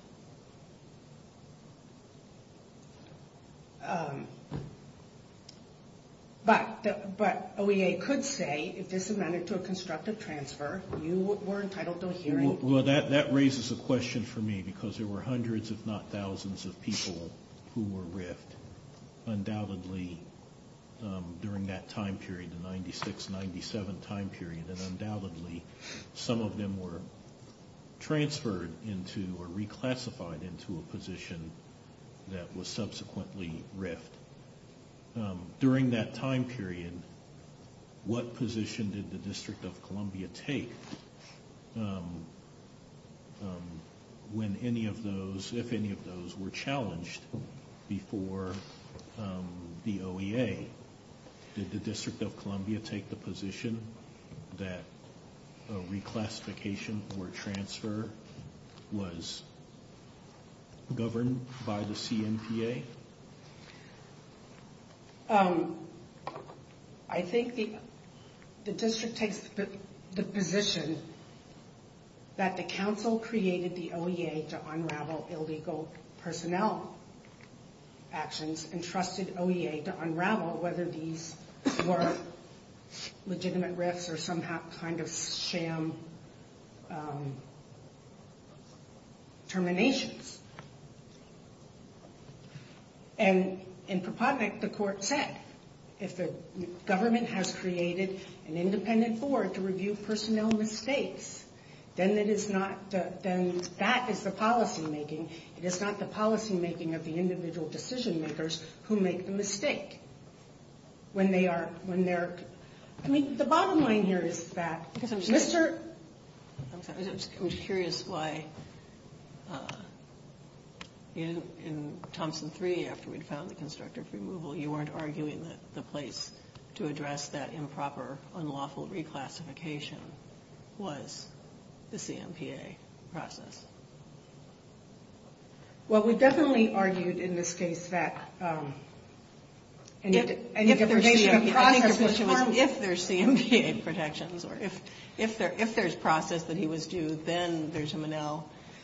But OEA could say, if this amended to a constructive transfer, you were entitled to a hearing. Well, that raises a question for me because there were hundreds if not thousands of people who were RIF'd, undoubtedly during that time period, the 96, 97 time period, and undoubtedly some of them were transferred into or reclassified into a position that was subsequently RIF'd. During that time period, what position did the District of Columbia take when any of those, if any of those were challenged before the OEA? Did the District of Columbia take the position that reclassification or transfer was governed by the CMPA? I think the District takes the position that the council created the OEA to unravel illegal personnel actions and trusted OEA to unravel whether these were legitimate RIFs or some kind of sham terminations. And in Proponent, the court said, if the government has created an independent board to review personnel mistakes, then that is the policymaking. It is not the policymaking of the individual decision-makers who make the mistake. When they are, when they're, I mean, the bottom line here is that Mr. I'm just curious why in Thompson 3, after we'd found the constructive removal, you weren't arguing that the place to address that improper, unlawful reclassification was the CMPA process. Well, we definitely argued in this case that, and if there's a process. If there's CMPA protections, or if there's process that he was due, then there's a MNL.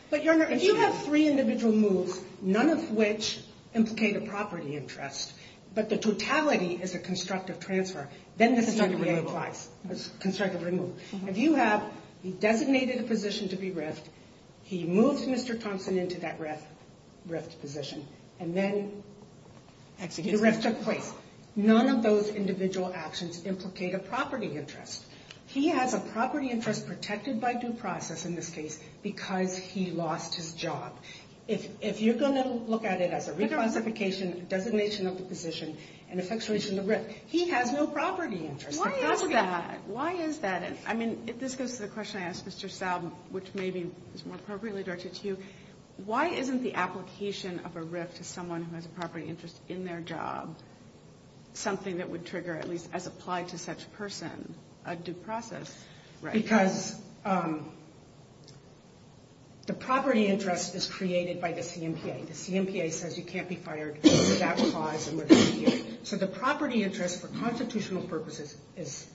But, Your Honor, if you have three individual moves, none of which implicate a property interest, but the totality is a constructive transfer, then the CMPA applies. Constructive removal. Constructive removal. If you have, he designated a position to be RIF'd, he moved Mr. Thompson into that RIF'd position, and then the RIF took place. None of those individual actions implicate a property interest. He has a property interest protected by due process in this case because he lost his job. If you're going to look at it as a reclassification, designation of the position, and effectuation of the RIF, he has no property interest. Why is that? Why is that? I mean, if this goes to the question I asked Mr. Saub, which maybe is more appropriately directed to you, why isn't the application of a RIF to someone who has a property interest in their job something that would trigger, at least as applied to such a person, a due process? Because the property interest is created by the CMPA. The CMPA says you can't be fired for that clause. So the property interest for constitutional purposes is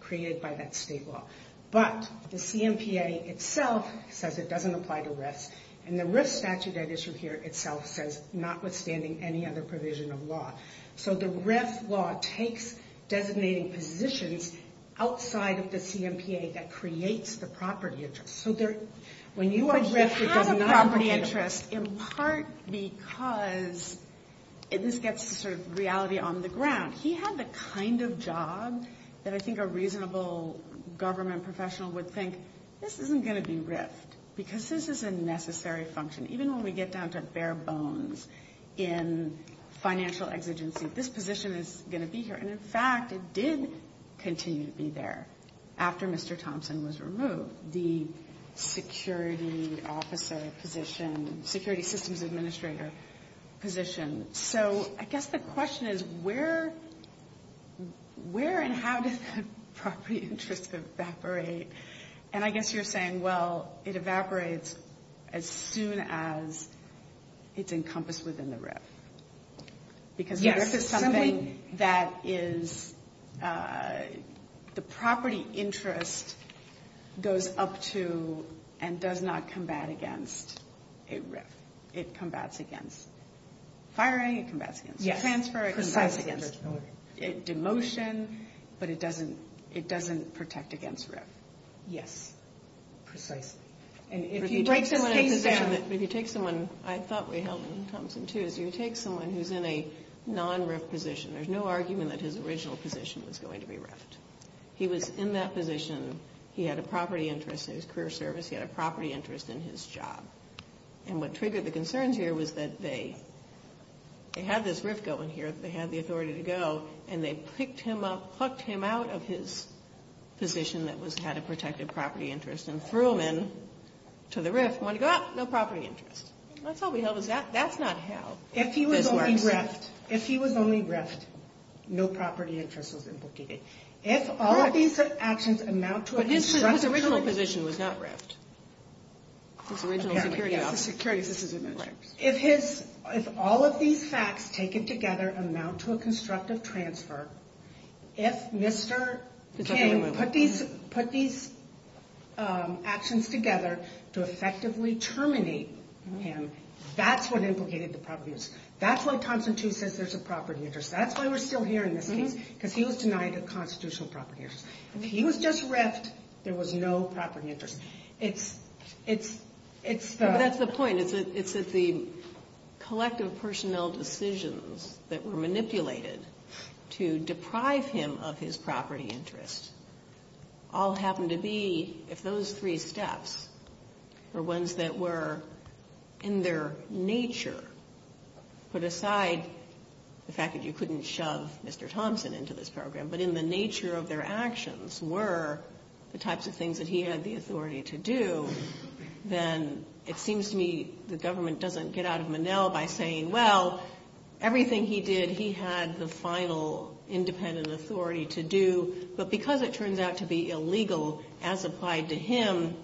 created by that state law. But the CMPA itself says it doesn't apply to RIFs. And the RIF statute at issue here itself says notwithstanding any other provision of law. So the RIF law takes designating positions outside of the CMPA that creates the property interest. So when you are RIF'd, it does not... But he had a property interest in part because, and this gets to sort of reality on the ground, he had the kind of job that I think a reasonable government professional would think, this isn't going to be RIF'd because this is a necessary function. Even when we get down to bare bones in financial exigency, this position is going to be here. And, in fact, it did continue to be there after Mr. Thompson was removed, the security officer position, security systems administrator position. So I guess the question is where and how does the property interest evaporate? And I guess you're saying, well, it evaporates as soon as it's encompassed within the RIF. Because the RIF is something that is the property interest goes up to and does not combat against a RIF. It combats against firing. It combats against transfer. It combats against demotion. But it doesn't protect against RIF. Yes. Precisely. And if you take someone who's in a non-RIF position, there's no argument that his original position was going to be RIF'd. He was in that position. He had a property interest in his career service. He had a property interest in his job. And what triggered the concerns here was that they had this RIF going here, that they had the authority to go, and they picked him up, plucked him out of his position that had a protected property interest, and threw him in to the RIF wanting to go, ah, no property interest. That's not how this works. If he was only RIF'd, no property interest was implicated. If all of these actions amount to a constructional- But his original position was not RIF'd. His original security office. If all of these facts taken together amount to a constructive transfer, if Mr. King put these actions together to effectively terminate him, that's what implicated the property interest. That's why Thompson, too, says there's a property interest. That's why we're still here in this case, because he was denied a constitutional property interest. If he was just RIF'd, there was no property interest. It's the- No, but that's the point. It's that the collective personnel decisions that were manipulated to deprive him of his property interest all happened to be, if those three steps were ones that were in their nature, put aside the fact that you couldn't shove Mr. Thompson into this program, but in the nature of their actions were the types of things that he had the authority to do, then it seems to me the government doesn't get out of Monell by saying, well, everything he did he had the final independent authority to do, but because it turns out to be illegal as applied to him,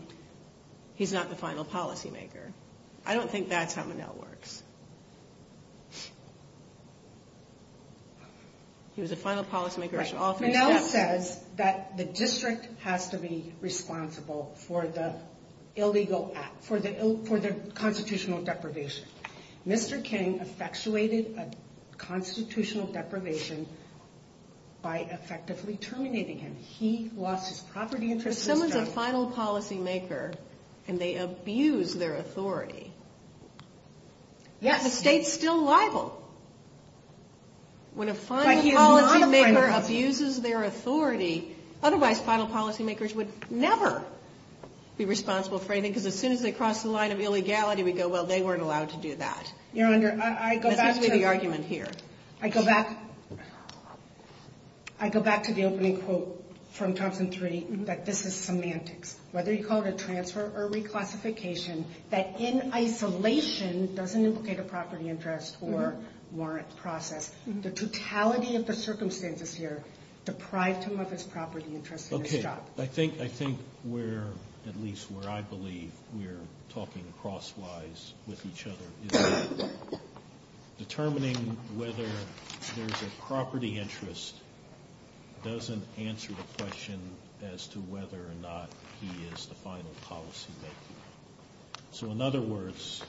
he's not the final policymaker. I don't think that's how Monell works. He was a final policymaker on all three steps. Right. Monell says that the district has to be responsible for the constitutional deprivation. Mr. King effectuated a constitutional deprivation by effectively terminating him. He lost his property interest to this guy. But someone's a final policymaker, and they abuse their authority. Yes. The state's still liable. When a final policymaker abuses their authority, otherwise final policymakers would never be responsible for anything, because as soon as they cross the line of illegality, we go, well, they weren't allowed to do that. Your Honor, I go back to the opening quote from Thompson 3, that this is semantics. Whether you call it a transfer or reclassification, that in isolation doesn't implicate a property interest or warrant process. The totality of the circumstances here deprived him of his property interest in this job. Okay. I think we're, at least where I believe we're talking crosswise with each other, is that determining whether there's a property interest doesn't answer the question as to whether or not he is the final policymaker. So in other words,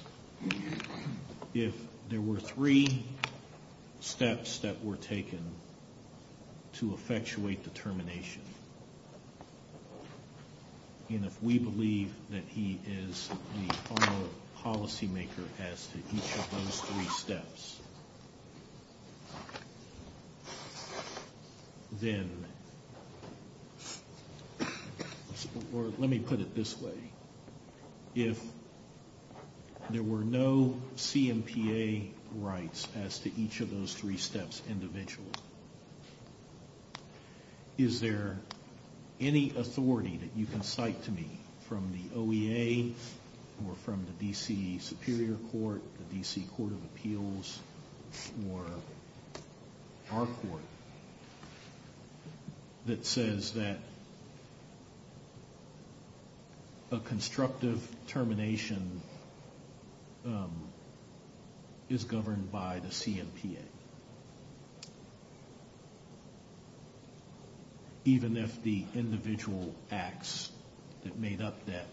if there were three steps that were taken to effectuate determination, and if we believe that he is the final policymaker as to each of those three steps, then, or let me put it this way, if there were no CMPA rights as to each of those three steps individually, is there any authority that you can cite to me from the OEA or from the D.C. Superior Court, the D.C. Court of Appeals, or our court, that says that a constructive termination is governed by the CMPA, even if the individual acts that made up that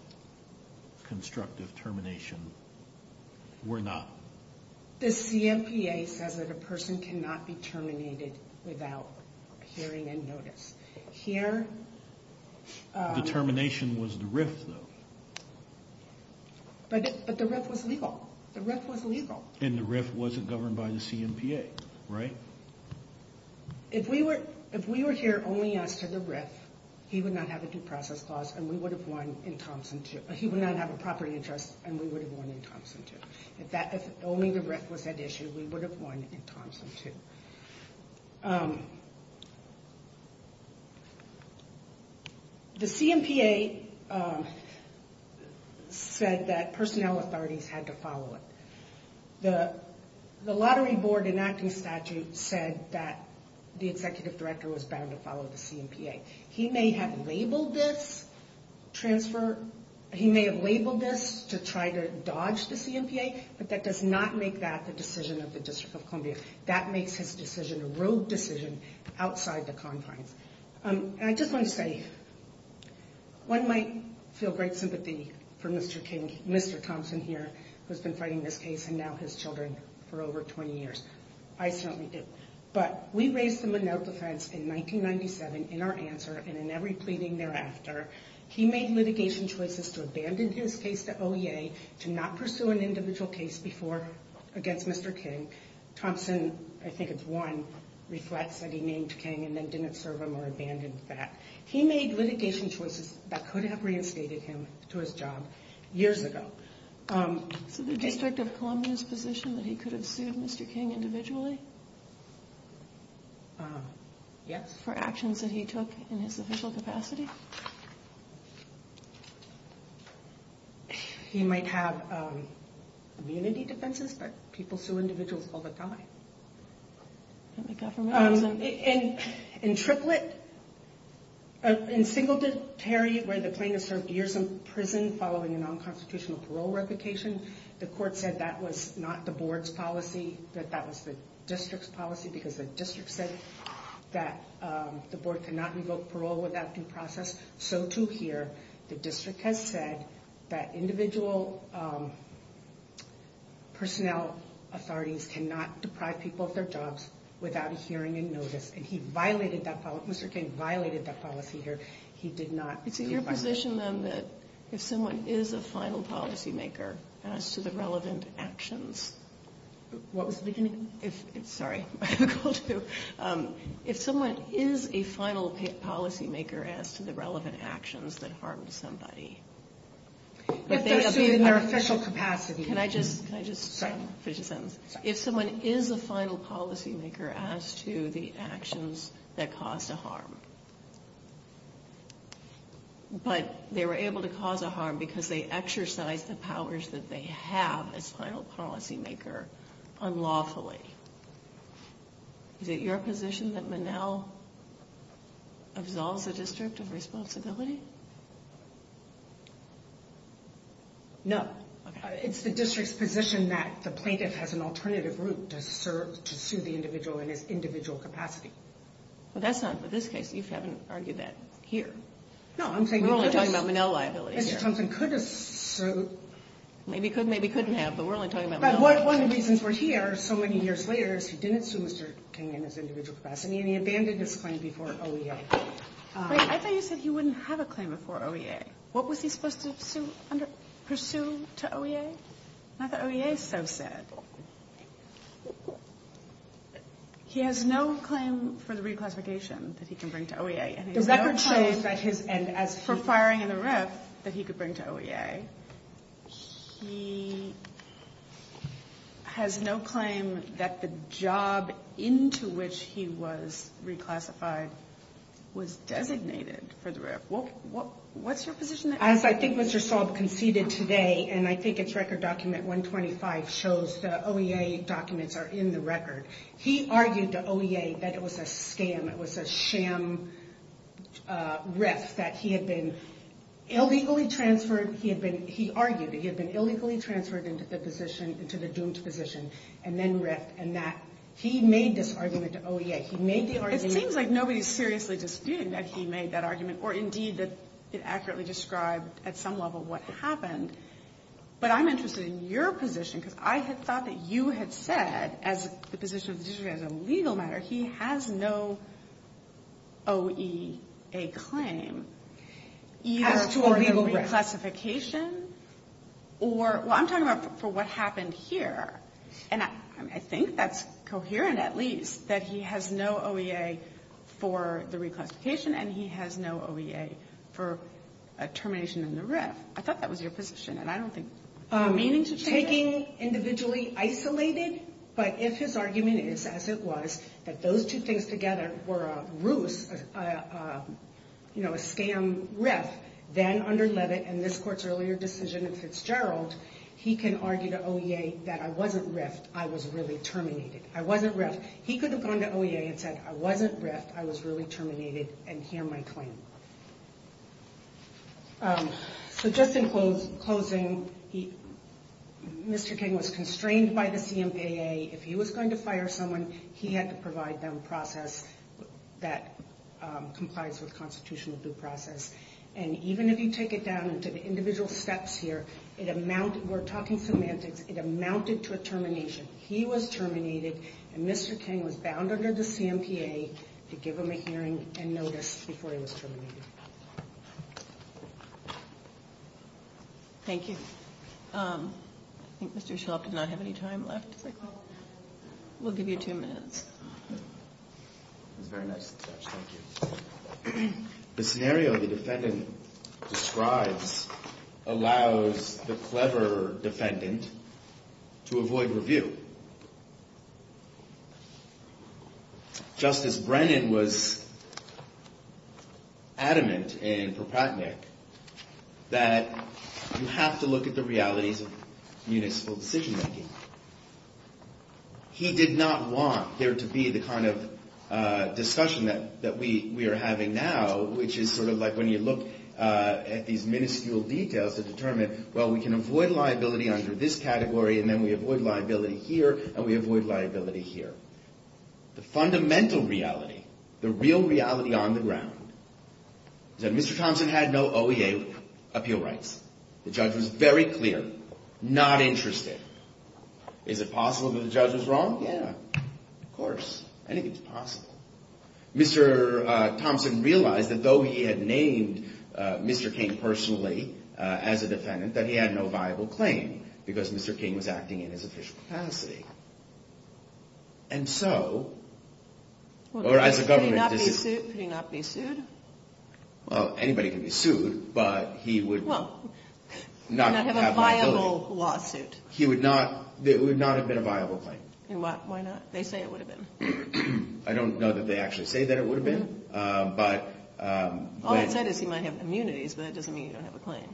constructive termination were not? The CMPA says that a person cannot be terminated without hearing and notice. Here... Determination was the RIF, though. But the RIF was legal. The RIF was legal. And the RIF wasn't governed by the CMPA, right? If we were here only as to the RIF, he would not have a due process clause, and we would have won in Thompson 2. He would not have a property interest, and we would have won in Thompson 2. If only the RIF was at issue, we would have won in Thompson 2. The CMPA said that personnel authorities had to follow it. The Lottery Board enacting statute said that the executive director was bound to follow the CMPA. He may have labeled this to try to dodge the CMPA, but that does not make that the decision of the District of Columbia. That makes his decision a rogue decision outside the confines. And I just want to say, one might feel great sympathy for Mr. Thompson here, who has been fighting this case and now his children for over 20 years. I certainly do. But we raised him a no defense in 1997 in our answer and in every pleading thereafter. He made litigation choices to abandon his case to OEA, to not pursue an individual case before against Mr. King. Thompson, I think it's one, reflects that he named King and then didn't serve him or abandon that. He made litigation choices that could have reinstated him to his job years ago. So the District of Columbia's position that he could have sued Mr. King individually? Yes. For actions that he took in his official capacity? He might have immunity defenses, but people sue individuals all the time. In Triplett, in Singletary, where the plaintiff served years in prison following a non-constitutional parole replication, the court said that was not the board's policy, that that was the district's policy, because the district said that the board cannot revoke parole without due process. So too here, the district has said that individual personnel authorities cannot deprive people of their jobs without a hearing and notice. And he violated that policy. Mr. King violated that policy here. He did not. Is it your position, then, that if someone is a final policymaker as to the relevant actions? What was the beginning? Sorry. If someone is a final policymaker as to the relevant actions that harmed somebody? If they're sued in their official capacity. Can I just finish a sentence? But they were able to cause a harm because they exercised the powers that they have as final policymaker unlawfully. Is it your position that Monell absolves the district of responsibility? No. It's the district's position that the plaintiff has an alternative route to sue the individual in his individual capacity. Well, that's not, in this case, you haven't argued that here. No, I'm saying you could have. We're only talking about Monell liability here. Mr. Thompson could have sued. Maybe could, maybe couldn't have, but we're only talking about Monell liability. But one of the reasons we're here so many years later is he didn't sue Mr. King in his individual capacity, and he abandoned his claim before OEA. I thought you said he wouldn't have a claim before OEA. What was he supposed to pursue to OEA? I thought OEA is so sad. He has no claim for the reclassification that he can bring to OEA. The record shows that his, and as for firing in the RIF, that he could bring to OEA. He has no claim that the job into which he was reclassified was designated for the RIF. What's your position? As I think Mr. Saul conceded today, and I think it's record document 125 shows the OEA documents are in the record. He argued to OEA that it was a scam. It was a sham RIF that he had been illegally transferred. He argued that he had been illegally transferred into the doomed position and then RIF, and that he made this argument to OEA. It seems like nobody is seriously disputing that he made that argument, or indeed that it accurately described at some level what happened. But I'm interested in your position because I had thought that you had said, as the position of the judiciary as a legal matter, he has no OEA claim either for the reclassification or, well I'm talking about for what happened here, and I think that's coherent at least that he has no OEA for the reclassification and he has no OEA for a termination in the RIF. I thought that was your position, and I don't think... Taking individually isolated, but if his argument is as it was, that those two things together were a ruse, a scam RIF, then under Leavitt and this Court's earlier decision in Fitzgerald, he can argue to OEA that I wasn't RIF'd, I was really terminated. I wasn't RIF'd. He could have gone to OEA and said I wasn't RIF'd, I was really terminated, and here my claim. So just in closing, Mr. King was constrained by the CMPA. If he was going to fire someone, he had to provide them a process that complies with constitutional due process. And even if you take it down into the individual steps here, we're talking semantics, it amounted to a termination. He was terminated, and Mr. King was bound under the CMPA to give him a hearing and notice before he was terminated. Thank you. I think Mr. Shelf did not have any time left. We'll give you two minutes. That was very nice of the judge. Thank you. The scenario the defendant describes allows the clever defendant to avoid review. Justice Brennan was adamant in Propatnick that you have to look at the realities of municipal decision-making. He did not want there to be the kind of discussion that we are having now, which is sort of like when you look at these minuscule details to determine, well, we can avoid liability under this category, and then we avoid liability here. We avoid liability here, and we avoid liability here. The fundamental reality, the real reality on the ground, is that Mr. Thompson had no OEA appeal rights. The judge was very clear, not interested. Is it possible that the judge was wrong? Yeah. Of course. Anything is possible. Mr. Thompson realized that though he had named Mr. King personally as a defendant, that he had no viable claim because Mr. King was acting in his official capacity. And so, or as a government decision... Could he not be sued? Well, anybody can be sued, but he would not have liability. He would not have a viable lawsuit. He would not have been a viable claim. Why not? They say it would have been. I don't know that they actually say that it would have been, but... What they might say is he might have immunities, but that doesn't mean you don't have a claim.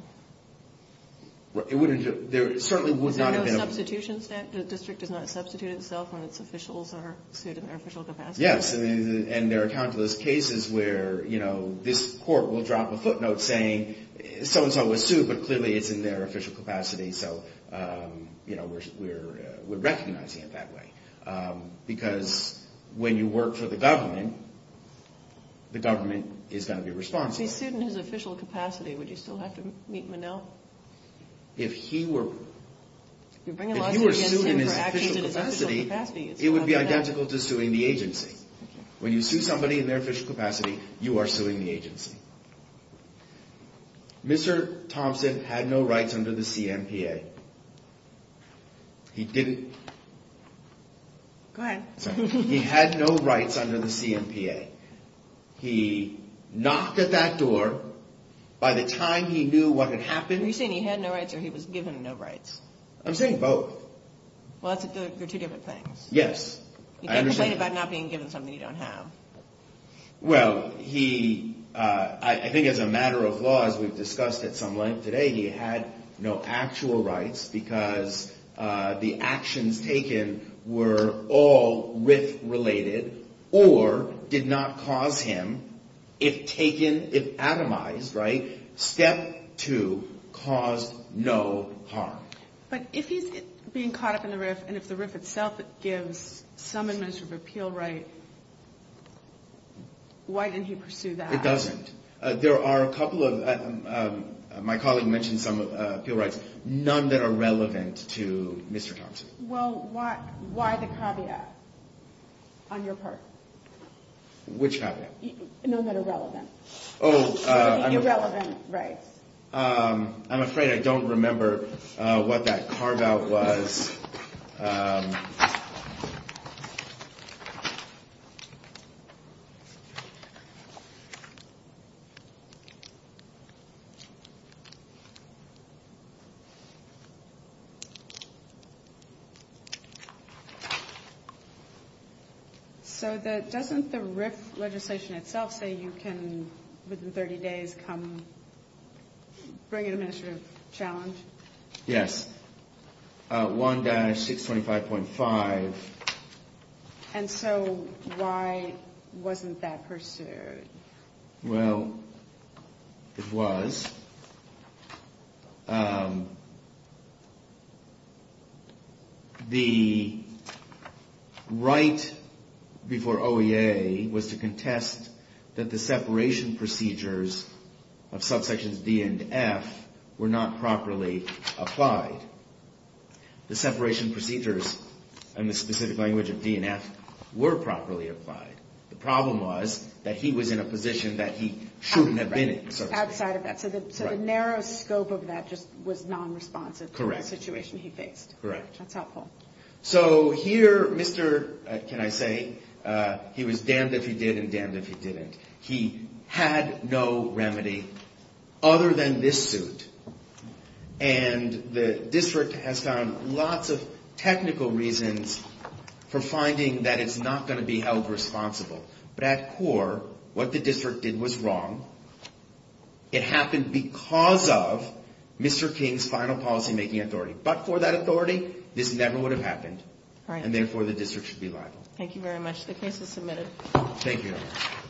There certainly would not have been... So no substitution statute, the district does not substitute itself when its officials are sued in their official capacity? Yes, and there are countless cases where, you know, this court will drop a footnote saying so-and-so was sued, but clearly it's in their official capacity, so, you know, we're recognizing it that way. Because when you work for the government, the government is going to be responsible. If he's sued in his official capacity, would you still have to meet Monell? If he were... If you were sued in his official capacity, it would be identical to suing the agency. When you sue somebody in their official capacity, you are suing the agency. Mr. Thompson had no rights under the CMPA. He didn't... Go ahead. He had no rights under the CMPA. He knocked at that door. By the time he knew what had happened... Are you saying he had no rights or he was given no rights? I'm saying both. Well, they're two different things. Yes. You can't complain about not being given something you don't have. Well, he... I think as a matter of law, as we've discussed at some length today, he had no actual rights because the actions taken were all RIF-related or did not cause him, if taken, if atomized, right? Step two caused no harm. But if he's being caught up in the RIF and if the RIF itself gives some administrative appeal right, why didn't he pursue that? It doesn't. There are a couple of... My colleague mentioned some appeal rights, none that are relevant to Mr. Thompson. Well, why the caveat on your part? Which caveat? None that are relevant. Oh, I'm afraid I don't remember what that carve-out was. Okay. So doesn't the RIF legislation itself say you can, within 30 days, come bring an administrative challenge? Yes. 1-625.5. And so why wasn't that pursued? Well, it was. The right before OEA was to contest that the separation procedures of subsections D and F were not properly applied. The separation procedures in the specific language of D and F were properly applied. The problem was that he was in a position that he shouldn't have been in, so to speak. Outside of that. So the narrow scope of that just was non-responsive to the situation he faced. Correct. That's helpful. So here, Mr., can I say, he was damned if he did and damned if he didn't. He had no remedy other than this suit. And the district has found lots of technical reasons for finding that it's not going to be held responsible. But at core, what the district did was wrong. It happened because of Mr. King's final policymaking authority. But for that authority, this never would have happened. And therefore, the district should be liable. Thank you very much. The case is submitted. Thank you.